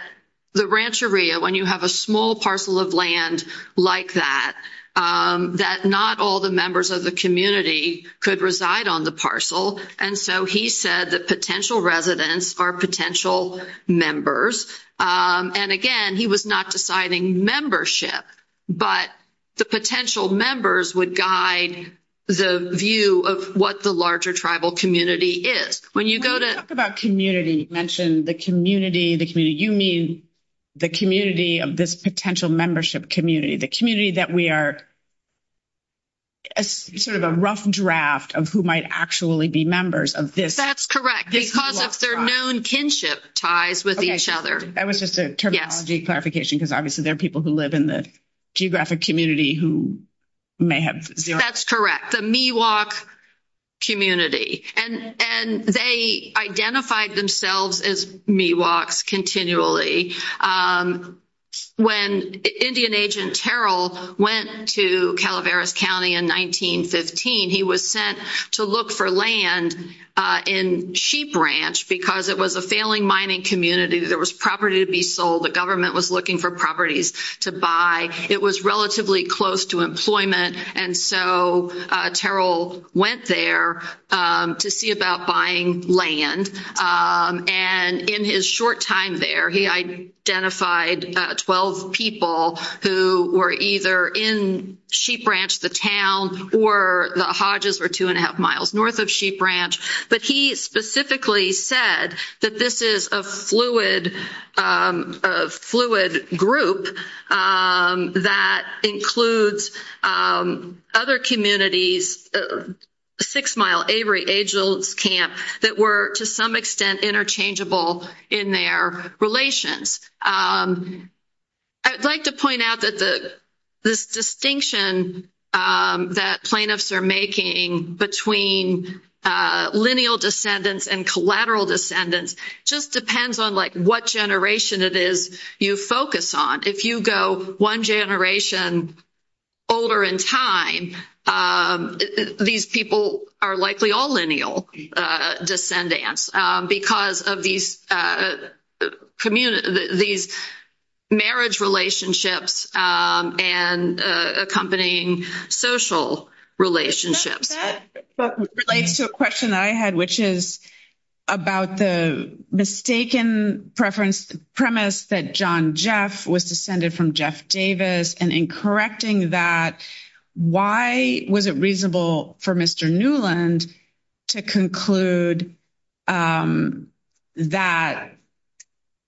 the rancheria, when you have a small parcel of land like that, um, that not all the members of the community could reside on the parcel. And so he said that potential residents are potential members. Um, and again, he was not deciding membership, but the potential members would guide the view of what the larger tribal community is. When you go to talk about community, you mentioned the community, the community, you mean the community of this potential membership community, the community that we are sort of a rough draft of who might actually be members of this. That's correct. Because if they're known kinship ties with each other, that was just a terminology clarification. Because obviously there are people who live in the geographic community who may have. That's correct. The Miwok community and, and they identified themselves as Miwoks continually. Um, when Indian agent Terrell went to Calaveras County in 1915, he was sent to look for land, uh, in sheep ranch because it was a failing mining community. There was property to be sold. The government was looking for properties to buy. It was relatively close to employment. And so, Terrell went there, um, to see about buying land. Um, and in his short time there, he identified, uh, 12 people who were either in sheep ranch, the town, or the Hodges were two and a half miles North of sheep ranch. But he specifically said that this is a fluid, um, uh, fluid group, um, that includes, um, other communities, uh, six mile Avery agents camp that were to some extent interchangeable in their relations. Um, I'd like to point out that the, this distinction, that plaintiffs are making between, uh, lineal descendants and collateral descendants just depends on like what generation it is you focus on. If you go one generation older in time, um, these people are likely all lineal, uh, descendants, um, because of these, uh, community, these marriage relationships, um, and, uh, accompanying social relationships, but relates to a question that I had, which is about the mistaken preference premise that John Jeff was descended from Jeff Davis. And in correcting that, why was it reasonable for Mr. Newland to conclude, um, that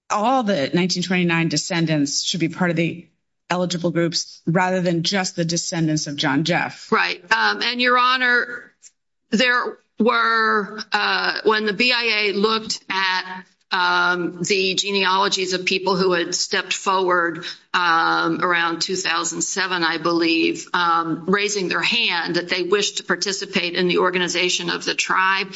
all the 1929 descendants should be part of the eligible groups rather than just the descendants of John Jeff. Right. Um, and your honor, there were, when the BIA looked at, um, the genealogies of people who had stepped forward, um, around 2007, I believe, um, raising their hand that they wish to participate in the organization of the tribe.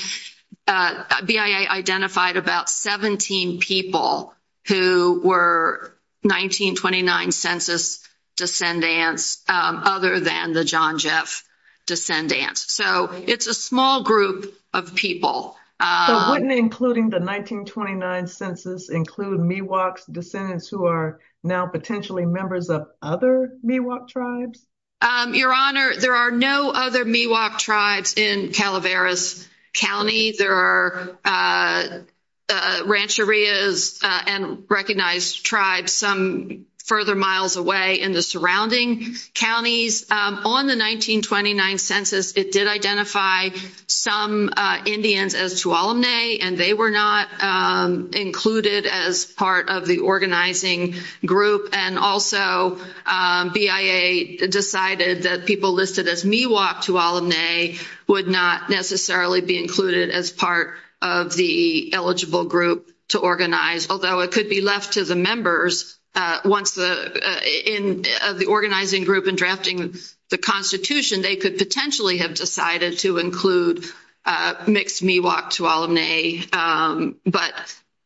Uh, BIA identified about 17 people who were 1929 census descendants. Um, other than the John Jeff descendants. So it's a small group of people, uh, including the 1929 census include me walks descendants who are now potentially members of other me walk tribes. Um, your honor, there are no other me walk tribes in Calaveras County. There are, uh, uh, ranch areas, uh, and recognized tribes some further miles away in the surrounding counties. Um, on the 1929 census, it did identify some, uh, Indians as to all of May and they were not, um, included as part of the organizing group. And also, um, BIA decided that people listed as me walk to all of May would not necessarily be included as part of the eligible group to organize. Although it could be left to the members, once the, uh, in the organizing group and drafting the constitution, they could potentially have decided to include, uh, mixed me walk to all of May. Um, but,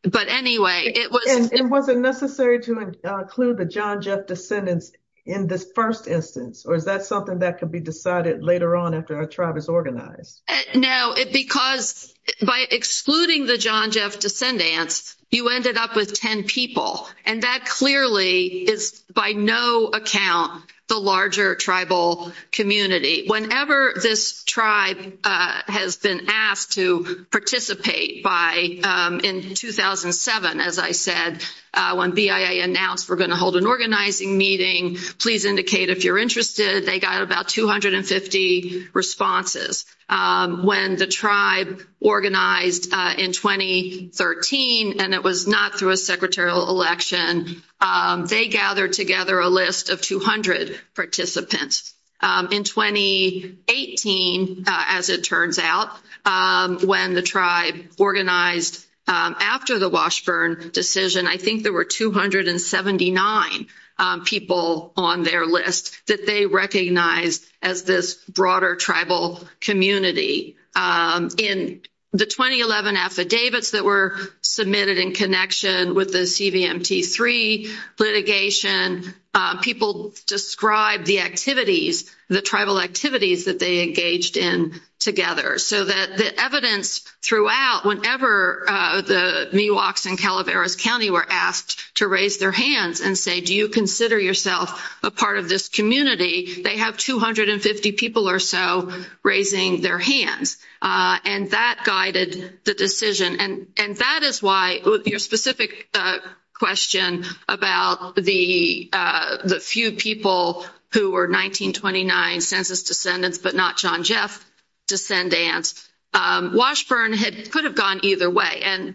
but anyway, it was, it wasn't necessary to include the John Jeff descendants in this 1st instance, or is that something that could be decided later on after our tribe is organized now? It because by excluding the John Jeff descendants, you ended up with 10 people. And that clearly is by no account, the larger tribal community, whenever this tribe, uh, has been asked to participate by, um, in 2007, as I said, uh, when BIA announced, we're going to hold an organizing meeting, please indicate if you're interested, they got about 250 responses. Um, when the tribe organized, uh, in 2013, and it was not through a secretarial election, um, they gathered together a list of 200 participants, um, in 2018, uh, as it turns out, um, when the tribe organized, um, after the Washburn decision, I think there were 279, um, people on their list that they recognize as this broader tribal community. Um, in the 2011 affidavits that were submitted in connection with the CVMT3 litigation, um, people describe the activities, the tribal activities that they engaged in together. So that the evidence throughout, whenever, uh, the Miwoks and Calaveras County were asked to raise their hands and say, do you consider yourself a part of this community? They have 250 people or so raising their hands. Uh, and that guided the decision and, and that is why your specific, uh, question about the, uh, the few people who were 1929 census descendants, but not John Jeff descendants, um, Washburn had, could have gone either way. And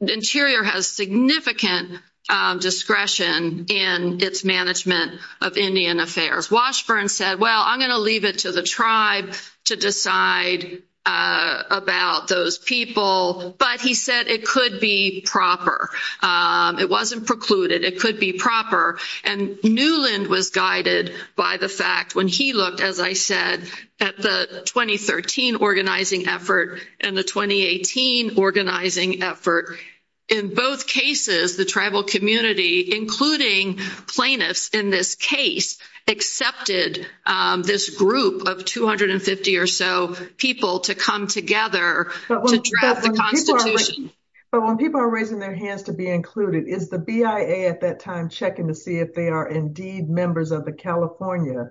the interior has significant, um, discretion in its management of Indian affairs. Washburn said, well, I'm going to leave it to the tribe to decide, uh, about those people. But he said it could be proper. Um, it wasn't precluded. It could be proper. And Newland was guided by the fact when he looked, as I said, at the 2013 organizing effort and the 2018 organizing effort. In both cases, the tribal community, including plaintiffs in this case, Accepted, um, this group of 250 or so people to come together. But when people are raising their hands to be included is the BIA at that time, checking to see if they are indeed members of the California.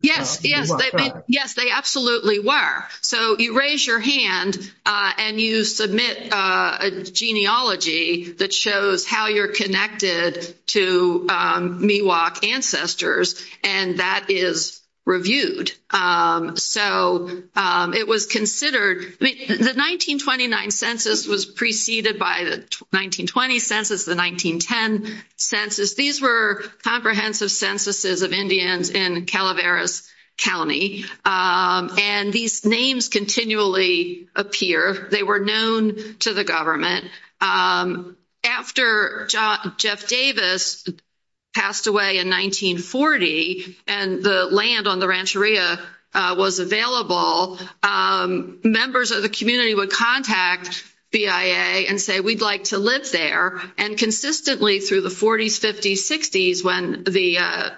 Yes. Yes. Yes, they absolutely were. So you raise your hand, uh, and you submit a genealogy that shows how you're connected to, um, Miwok ancestors, and that is reviewed. so, um, it was considered, I mean, the 1929 census was preceded by the 1920 census, the 1910 census. These were comprehensive censuses of Indians in Calaveras County. Um, and these names continually appear. They were known to the government. Um, after Jeff Davis passed away in 1940, and the land on the Rancheria, uh, was available, um, members of the community would contact BIA and say, we'd like to live there. And consistently through the forties, fifties, sixties, when the, uh,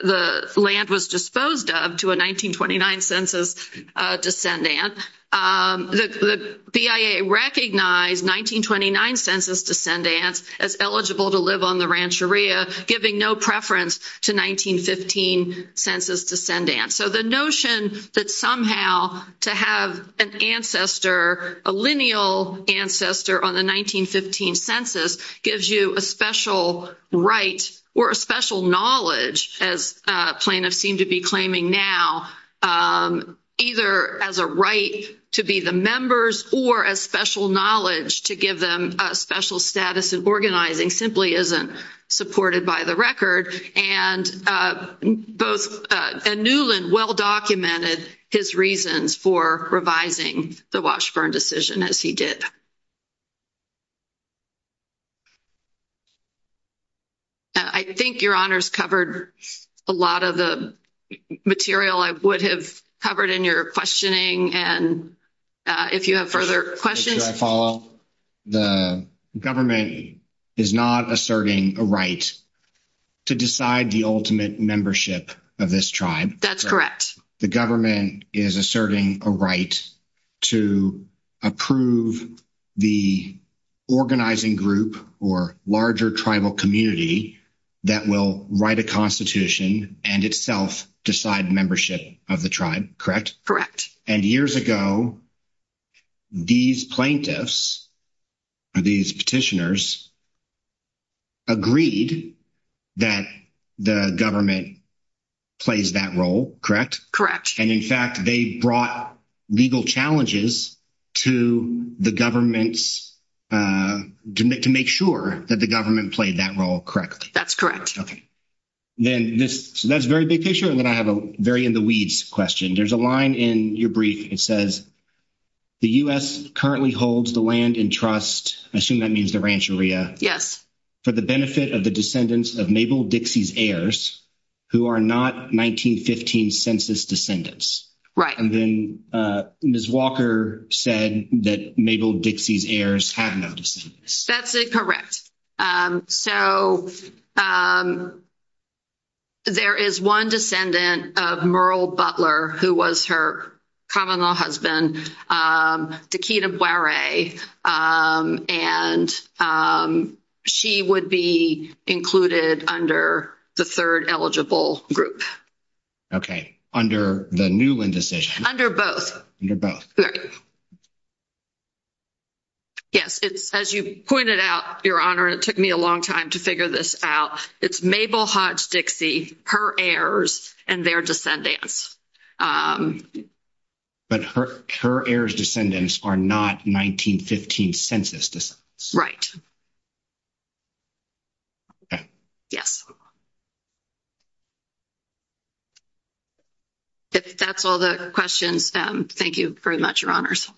the land was disposed of to a 1929 census, uh, descendant, um, the BIA recognized 1929 census descendants. As eligible to live on the Rancheria giving no preference to 1915 census descendants. So the notion that somehow to have an ancestor, a lineal ancestor on the 1915 census gives you a special right or a special knowledge as a plaintiff seemed to be claiming now, um, either as a right to be the members or as special knowledge to give them a special status in organizing simply isn't supported by the record. And, both, uh, and Newland well-documented his reasons for revising the Washburn decision as he did. I think your honors covered a lot of the material I would have covered in your questioning. And, uh, if you have further questions, should I follow up? The government is not asserting a right to decide the ultimate membership of this tribe. That's correct. The government is asserting a right to approve the organizing group or larger tribal community that will write a constitution and itself decide membership of the tribe. Correct? And years ago, these plaintiffs or these petitioners agreed that the government plays that role. And in fact, they brought legal challenges to the governments, to make, to make sure that the government played that role correctly. That's correct. Okay. Then this, so that's very big picture. And then I have a very in the weeds question. There's a line in your brief. It says the U.S. currently holds the land in trust. I assume that means the ranch area. For the benefit of the descendants of Mabel Dixie's heirs, who are not 1915 census descendants. Right. And then, uh, Ms. Walker said that Mabel Dixie's heirs have noticed. That's correct. Um, so, um, there is 1 descendant of Merle Butler, who was her common law husband, to keep up. Um, and, um, she would be included under the 3rd eligible group. Okay, under the new decision under both. Yes, it's as you pointed out, your honor, it took me a long time to figure this out. It's Mabel Hodge Dixie, her heirs, and their descendants. but her, her heirs descendants are not 1915 census descendants. Okay. Yes. If that's all the questions, um, thank you very much, your honors.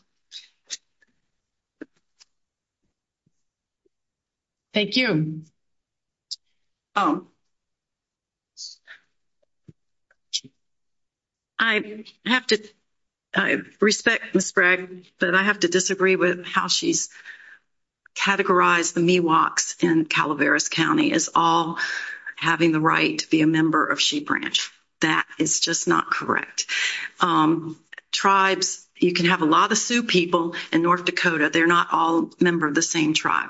Thank you. Oh, I have to, I respect Ms. Bragg, but I have to disagree with how she's categorized. The Miwoks in Calaveras County is all having the right to be a member of Sheep Ranch. That is just not correct. Um, you can have a lot of Sioux people in North Dakota. They're not all member of the same tribe.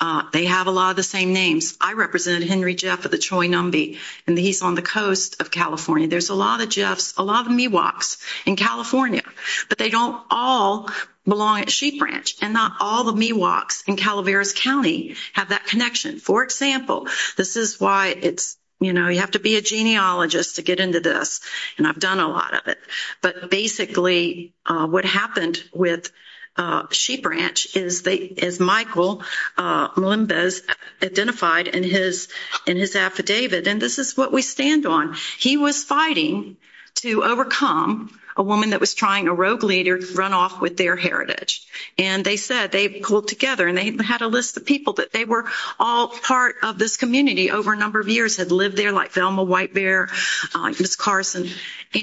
Uh, they have a lot of the same names. I represented Henry Jeff at the Troy Numbie, and he's on the coast of California. There's a lot of Jeff's, a lot of Miwoks in California, but they don't all belong at Sheep Ranch and not all the Miwoks in Calaveras County have that connection. For example, this is why it's, you know, you have to be a genealogist to get into this and I've done a lot of it, but basically, uh, what happened with, uh, Sheep Ranch is they, as Michael, uh, identified in his, in his affidavit, and this is what we stand on. He was fighting to overcome a woman that was trying a rogue leader to run off with their heritage, and they said they pulled together and they had a list of people that they were all part of this community over a number of years had lived there like Velma White Bear, uh, Miss Carson,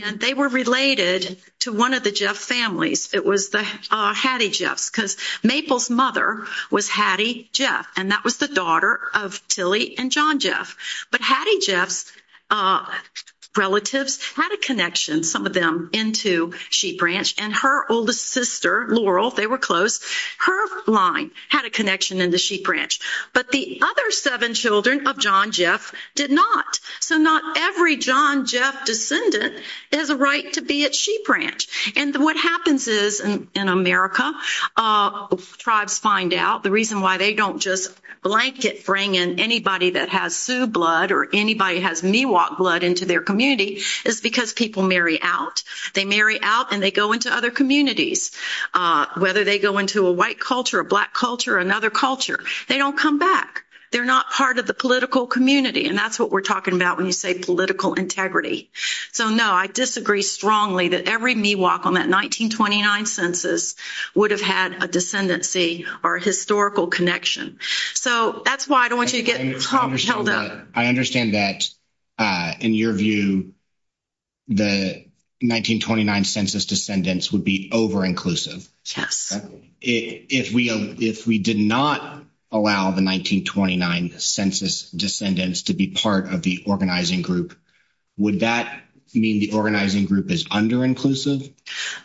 and they were related to one of the Jeff families. It was the, uh, Hattie Jeff's because Maple's mother was Hattie Jeff, and that was the daughter of Tilly and John Jeff, but Hattie Jeff's, uh, relatives had a connection, some of them into Sheep Ranch, and her oldest sister, Laurel, they were close. Her line had a connection in the Sheep Ranch, but the other seven children of John Jeff did not, so not every John Jeff descendant has a right to be at Sheep Ranch, and what happens is, in America, uh, the reason why they don't just blanket bring in anybody that has Sioux blood or anybody has Miwok blood into their community is because people marry out. They marry out and they go into other communities, uh, whether they go into a white culture, a black culture, another culture, they don't come back. They're not part of the political community, and that's what we're talking about when you say political integrity. So, no, I disagree strongly that every Miwok on that 1929 census would have had a historical connection. So that's why I don't want you to get held up. I understand that, uh, in your view, the 1929 census descendants would be over inclusive. Yes. If we, if we did not allow the 1929 census descendants to be part of the organizing group, would that mean the organizing group is under inclusive?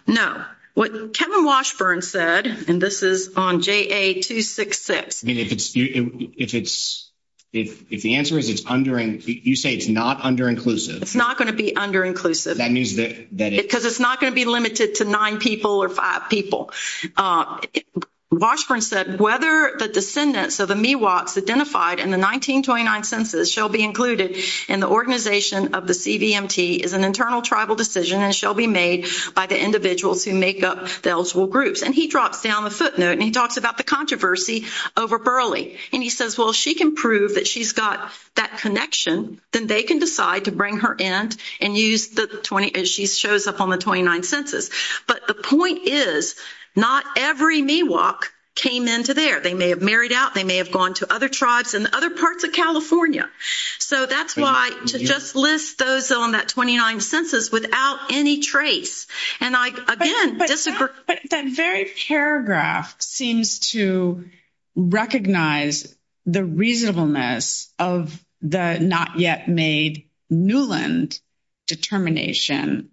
No. What Kevin Washburn said, and this is on J. 2, 6, 6. I mean, if it's, if it's, if the answer is it's under, and you say it's not under inclusive, it's not going to be under inclusive. That means that because it's not going to be limited to nine people or five people. Uh, Washburn said, whether the descendants of the Miwoks identified in the 1929 census shall be included in the organization of the CVMT is an internal tribal decision and shall be made by the individuals who make up the eligible groups. And he drops down the footnote and he talks about the controversy over Burley. And he says, she can prove that she's got that connection. Then they can decide to bring her end and use the 20, as she shows up on the 29 census. But the point is not every Miwok came into there. They may have married out. They may have gone to other tribes and other parts of California. So that's why to just list those on that 29 census without any trace. And I, again, disagree, but that very paragraph seems to recognize the reasonableness of the not yet made Newland determination,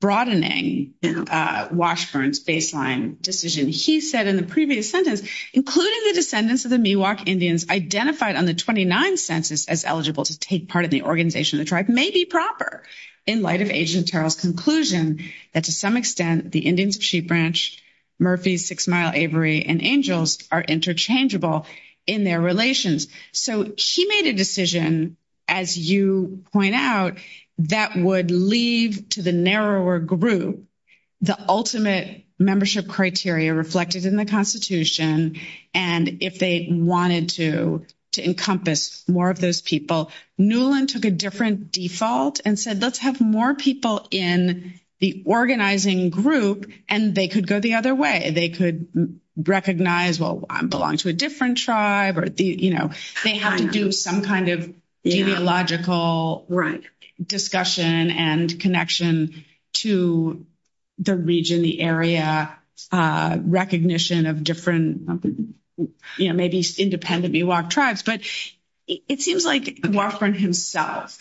broadening, uh, Washburn's baseline decision. He said in the previous sentence, including the descendants of the Miwok Indians identified on the 29 census as eligible to take part of the organization of the tribe may be proper in light of agent Terrell's conclusion that to some extent, the Indians, she branch Murphy's six mile Avery and angels are interchangeable in their relations. So she made a decision, as you point out, that would leave to the narrower group, the ultimate membership criteria reflected in the constitution. And if they wanted to, to encompass more of those people, Newland took a different default and said, let's have more people in the organizing group and they could go the other way. They could recognize, well, I'm belonging to a different tribe or the, they have to do some kind of ideological discussion and connection to the region, the area, uh, recognition of different, you know, maybe independently walk tribes, but it seems like Wofford himself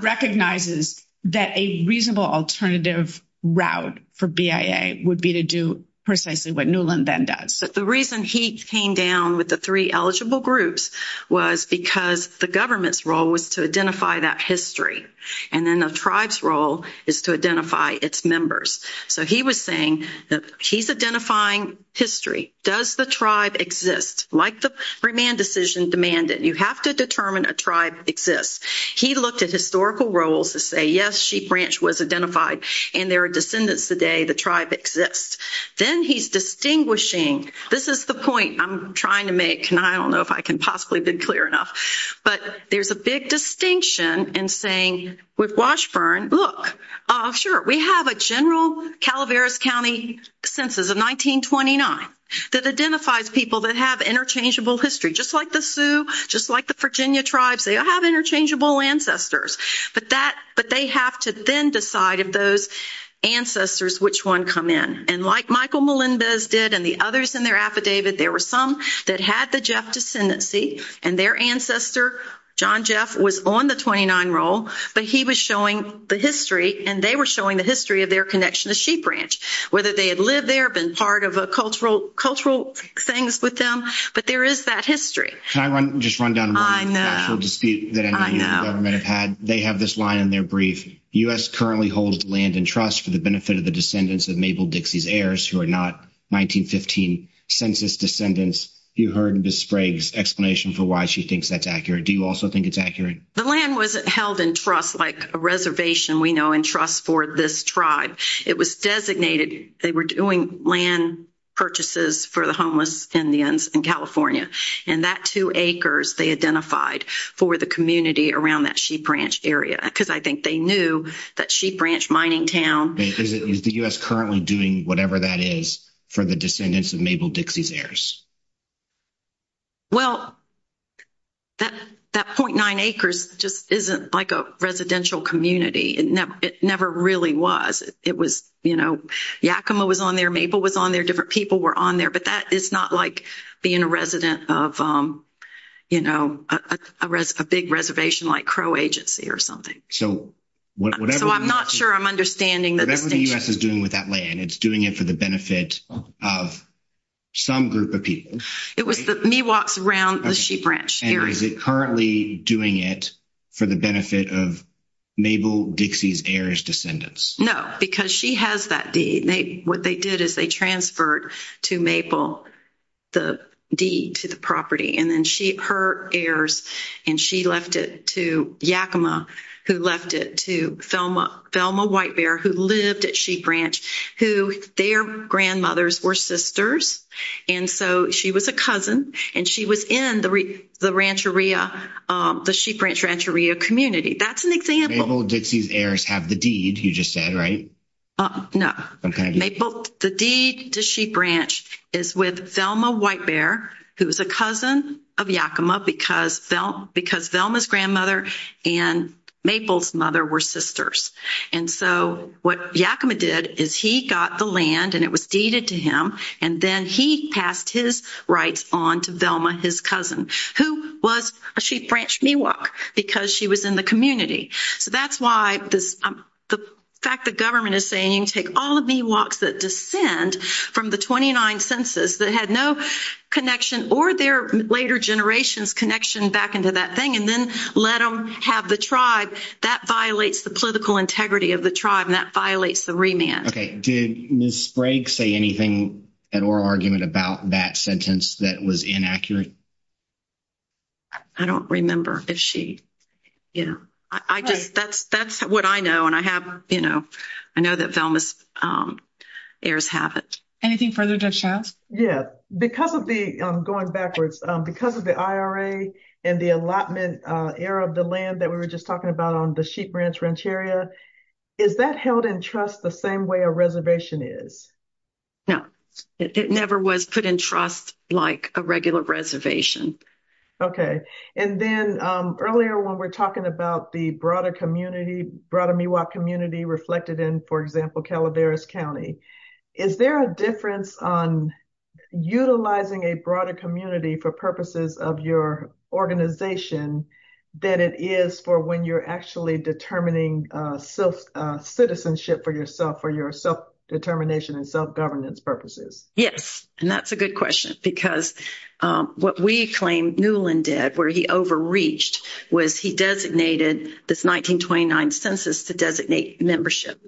recognizes that a reasonable alternative route for BIA would be to do precisely what Newland then does. So the reason he came down with the three eligible groups was because the government's role was to identify that history. And then the tribes role is to identify its members. So he was saying that he's identifying history. Does the tribe exist? Like the remand decision demanded, you have to determine a tribe exists. He looked at historical roles to say, sheep branch was identified and there are descendants today. The tribe exists. Then he's distinguishing. This is the point I'm trying to make. And I don't know if I can possibly be clear enough, but there's a big distinction in saying with Washburn, look, uh, sure. We have a general Calaveras County census of 1929 that identifies people that have interchangeable history, just like the Sioux, just like the Virginia tribes. They all have interchangeable ancestors, but that, but they have to then decide if those ancestors, which one come in. And like Michael Melinda's did and the others in their affidavit, there were some that had the Jeff descendancy and their ancestor, John Jeff was on the 29 role, but he was showing the history and they were showing the history of their connection to sheep branch, whether they had lived there, been part of a cultural, cultural things with them, but there is that history. Can I run, just run down the actual dispute that the government have had. They have this line in their brief us currently holds land and trust for the benefit of the descendants of Mabel Dixie's heirs who are not 1915 census descendants. You heard Ms. Sprague's explanation for why she thinks that's accurate. Do you also think it's accurate? The land was held in trust, like a reservation we know and trust for this tribe. It was designated. They were doing land purchases for the homeless Indians in California. And that two acres, they identified for the community around that sheep branch area. Cause I think they knew that sheep branch mining town. Is it, is the U S currently doing whatever that is for the descendants of Mabel Dixie's heirs? Well, that, that 0.9 acres just isn't like a residential community. It never, it never really was. It was, you know, Yakima was on there. Mabel was on there. Different people were on there, but that is not like being a resident of, um, you know, uh, a res, a big reservation like Crow agency or something. So. So I'm not sure I'm understanding that. The U S is doing with that land. It's doing it for the benefit of some group of people. It was the me walks around the sheep branch. Is it currently doing it for the benefit of Mabel Dixie's heirs descendants? No, because she has that deed. They, what they did is they transferred to Maple. The deed to the property. And then she, her heirs, and she left it to Yakima who left it to Thelma Thelma white bear, who lived at sheep branch, who their grandmothers were sisters. And so she was a cousin and she was in the, the rancheria, um, the sheep ranch, rancheria community. That's an example. Mabel Dixie's heirs have the deed. You just said, right? No, the deed to sheep branch is with Thelma white bear. Who was a cousin of Yakima because felt because Thelma's grandmother and Maple's mother were sisters. And so what Yakima did is he got the land and it was deeded to him. And then he passed his rights on to Velma, his cousin, who was a sheep branch me walk because she was in the community. So that's why this, um, the fact that government is saying, you can take all of me walks that descend from the 29 census that had no connection or their later generations connection back into that thing. And then let them have the tribe that violates the political integrity of the tribe. And that violates the remand. Okay. Did Ms. Brake say anything at oral argument about that sentence that was inaccurate? I don't remember if she, you know, I just, that's what I know. And I have, I know that Thelma's, heirs have it. Anything further to chance? Yeah, because of the, I'm going backwards because of the IRA and the allotment, uh, era of the land that we were just talking about on the sheep ranch ranch area. Is that held in trust the same way a reservation is. No, it never was put in trust, like a regular reservation. Okay. And then, um, earlier when we're talking about the broader community, broader Miwok community reflected in, Calaveras County, is there a difference on utilizing a broader community for purposes of your organization that it is for when you're actually determining, uh, self, uh, citizenship for yourself, for your self determination and self governance purposes. Yes. And that's a good question because, um, what we claim Newland did where he overreached was he designated this 1929 census to designate membership.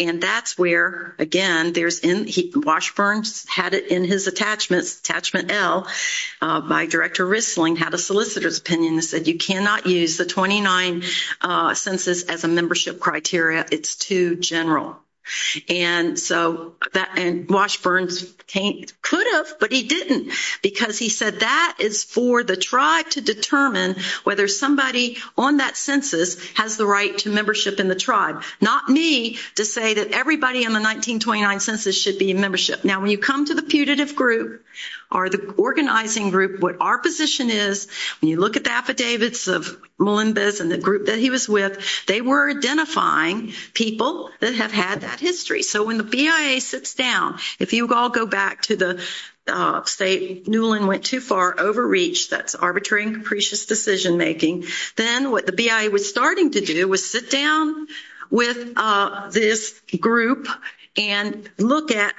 And that's where, again, there's in Washburn's had it in his attachments. Attachment L, uh, by director Rissling had a solicitor's opinion that said, you cannot use the 29, uh, census as a membership criteria. It's too general. And so that, and Washburn's can't could have, but he didn't because he said that. That is for the tribe to determine whether somebody on that census has the right to membership in the tribe. Not me to say that everybody in the 1929 census should be in membership. Now, when you come to the putative group or the organizing group, what our position is, when you look at the affidavits of Melinda's and the group that he was with, they were identifying people that have had that history. So when the BIA sits down, if you all go back to the state, Newland went too far, overreach, that's arbitrary and capricious decision-making. Then what the BIA was starting to do was sit down with, uh, this group and look at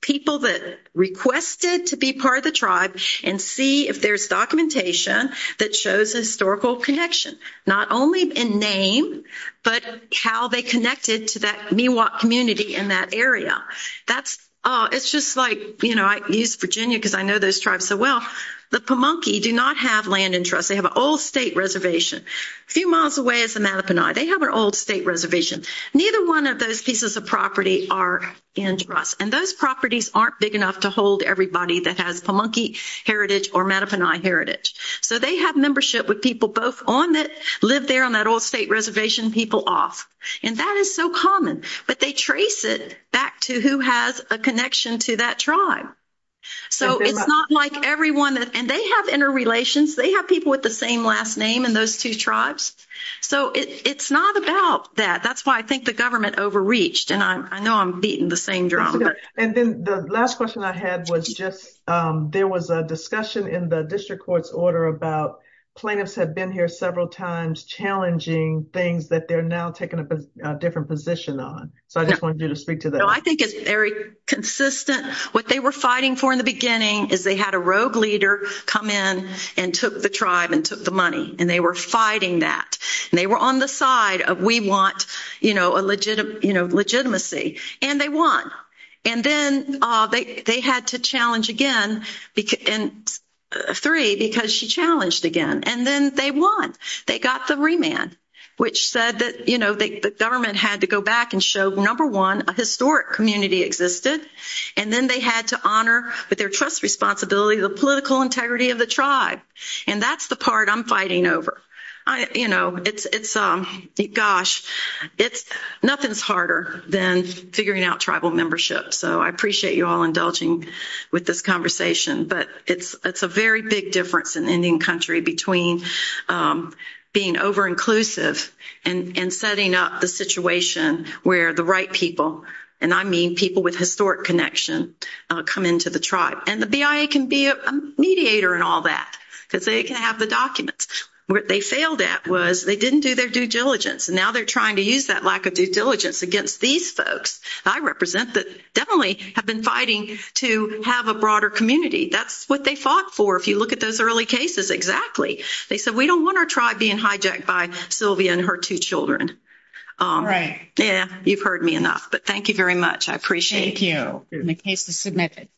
people that requested to be part of the tribe and see if there's documentation that shows a historical connection, not only in name, but how they connected to that Miwok community in that area. Now that's, uh, it's just like, you know, I use Virginia because I know those tribes so well. The Pamunkey do not have land in trust. They have an old state reservation. A few miles away is the Matapanai. They have an old state reservation. Neither one of those pieces of property are in trust. And those properties aren't big enough to hold everybody that has Pamunkey heritage or Matapanai heritage. So they have membership with people both on that, live there on that old state reservation, people off. And that is so common, but they trace it back to who has a connection to that tribe. So it's not like everyone that, and they have interrelations. They have people with the same last name and those two tribes. So it's not about that. That's why I think the government overreached and I'm, I know I'm beating the same drum. And then the last question I had was just, um, there was a discussion in the district court's order about plaintiffs had been here several times, challenging things that they're now taking up a different position on. So I just wanted you to speak to that. I think it's very consistent. What they were fighting for in the beginning is they had a rogue leader come in and took the tribe and took the money and they were fighting that and they were on the side of, we want, you know, a legitimate, you know, legitimacy and they won. And then, uh, they, they had to challenge again and three because she challenged again and then they won. They got the remand, which said that, you know, the government had to go back and show number one, a historic community existed. And then they had to honor with their trust responsibility, the political integrity of the tribe. And that's the part I'm fighting over. you know, it's, it's, um, gosh, it's nothing's harder than figuring out tribal membership. So I appreciate you all indulging with this conversation, but it's, it's a very big difference in Indian country between, um, being over inclusive and, and setting up the situation where the right people. And I mean, people with historic connection, uh, come into the tribe and the BIA can be a mediator and all that, because they can have the documents where they failed at was they didn't do their due diligence. And now they're trying to use that lack of due diligence against these folks. I represent that definitely have been fighting to have a broader community. That's what they fought for. If you look at those early cases, exactly, they said, we don't want our tribe being hijacked by Sylvia and her two children. Um, yeah, you've heard me enough, but thank you very much. I appreciate you. The case is submitted.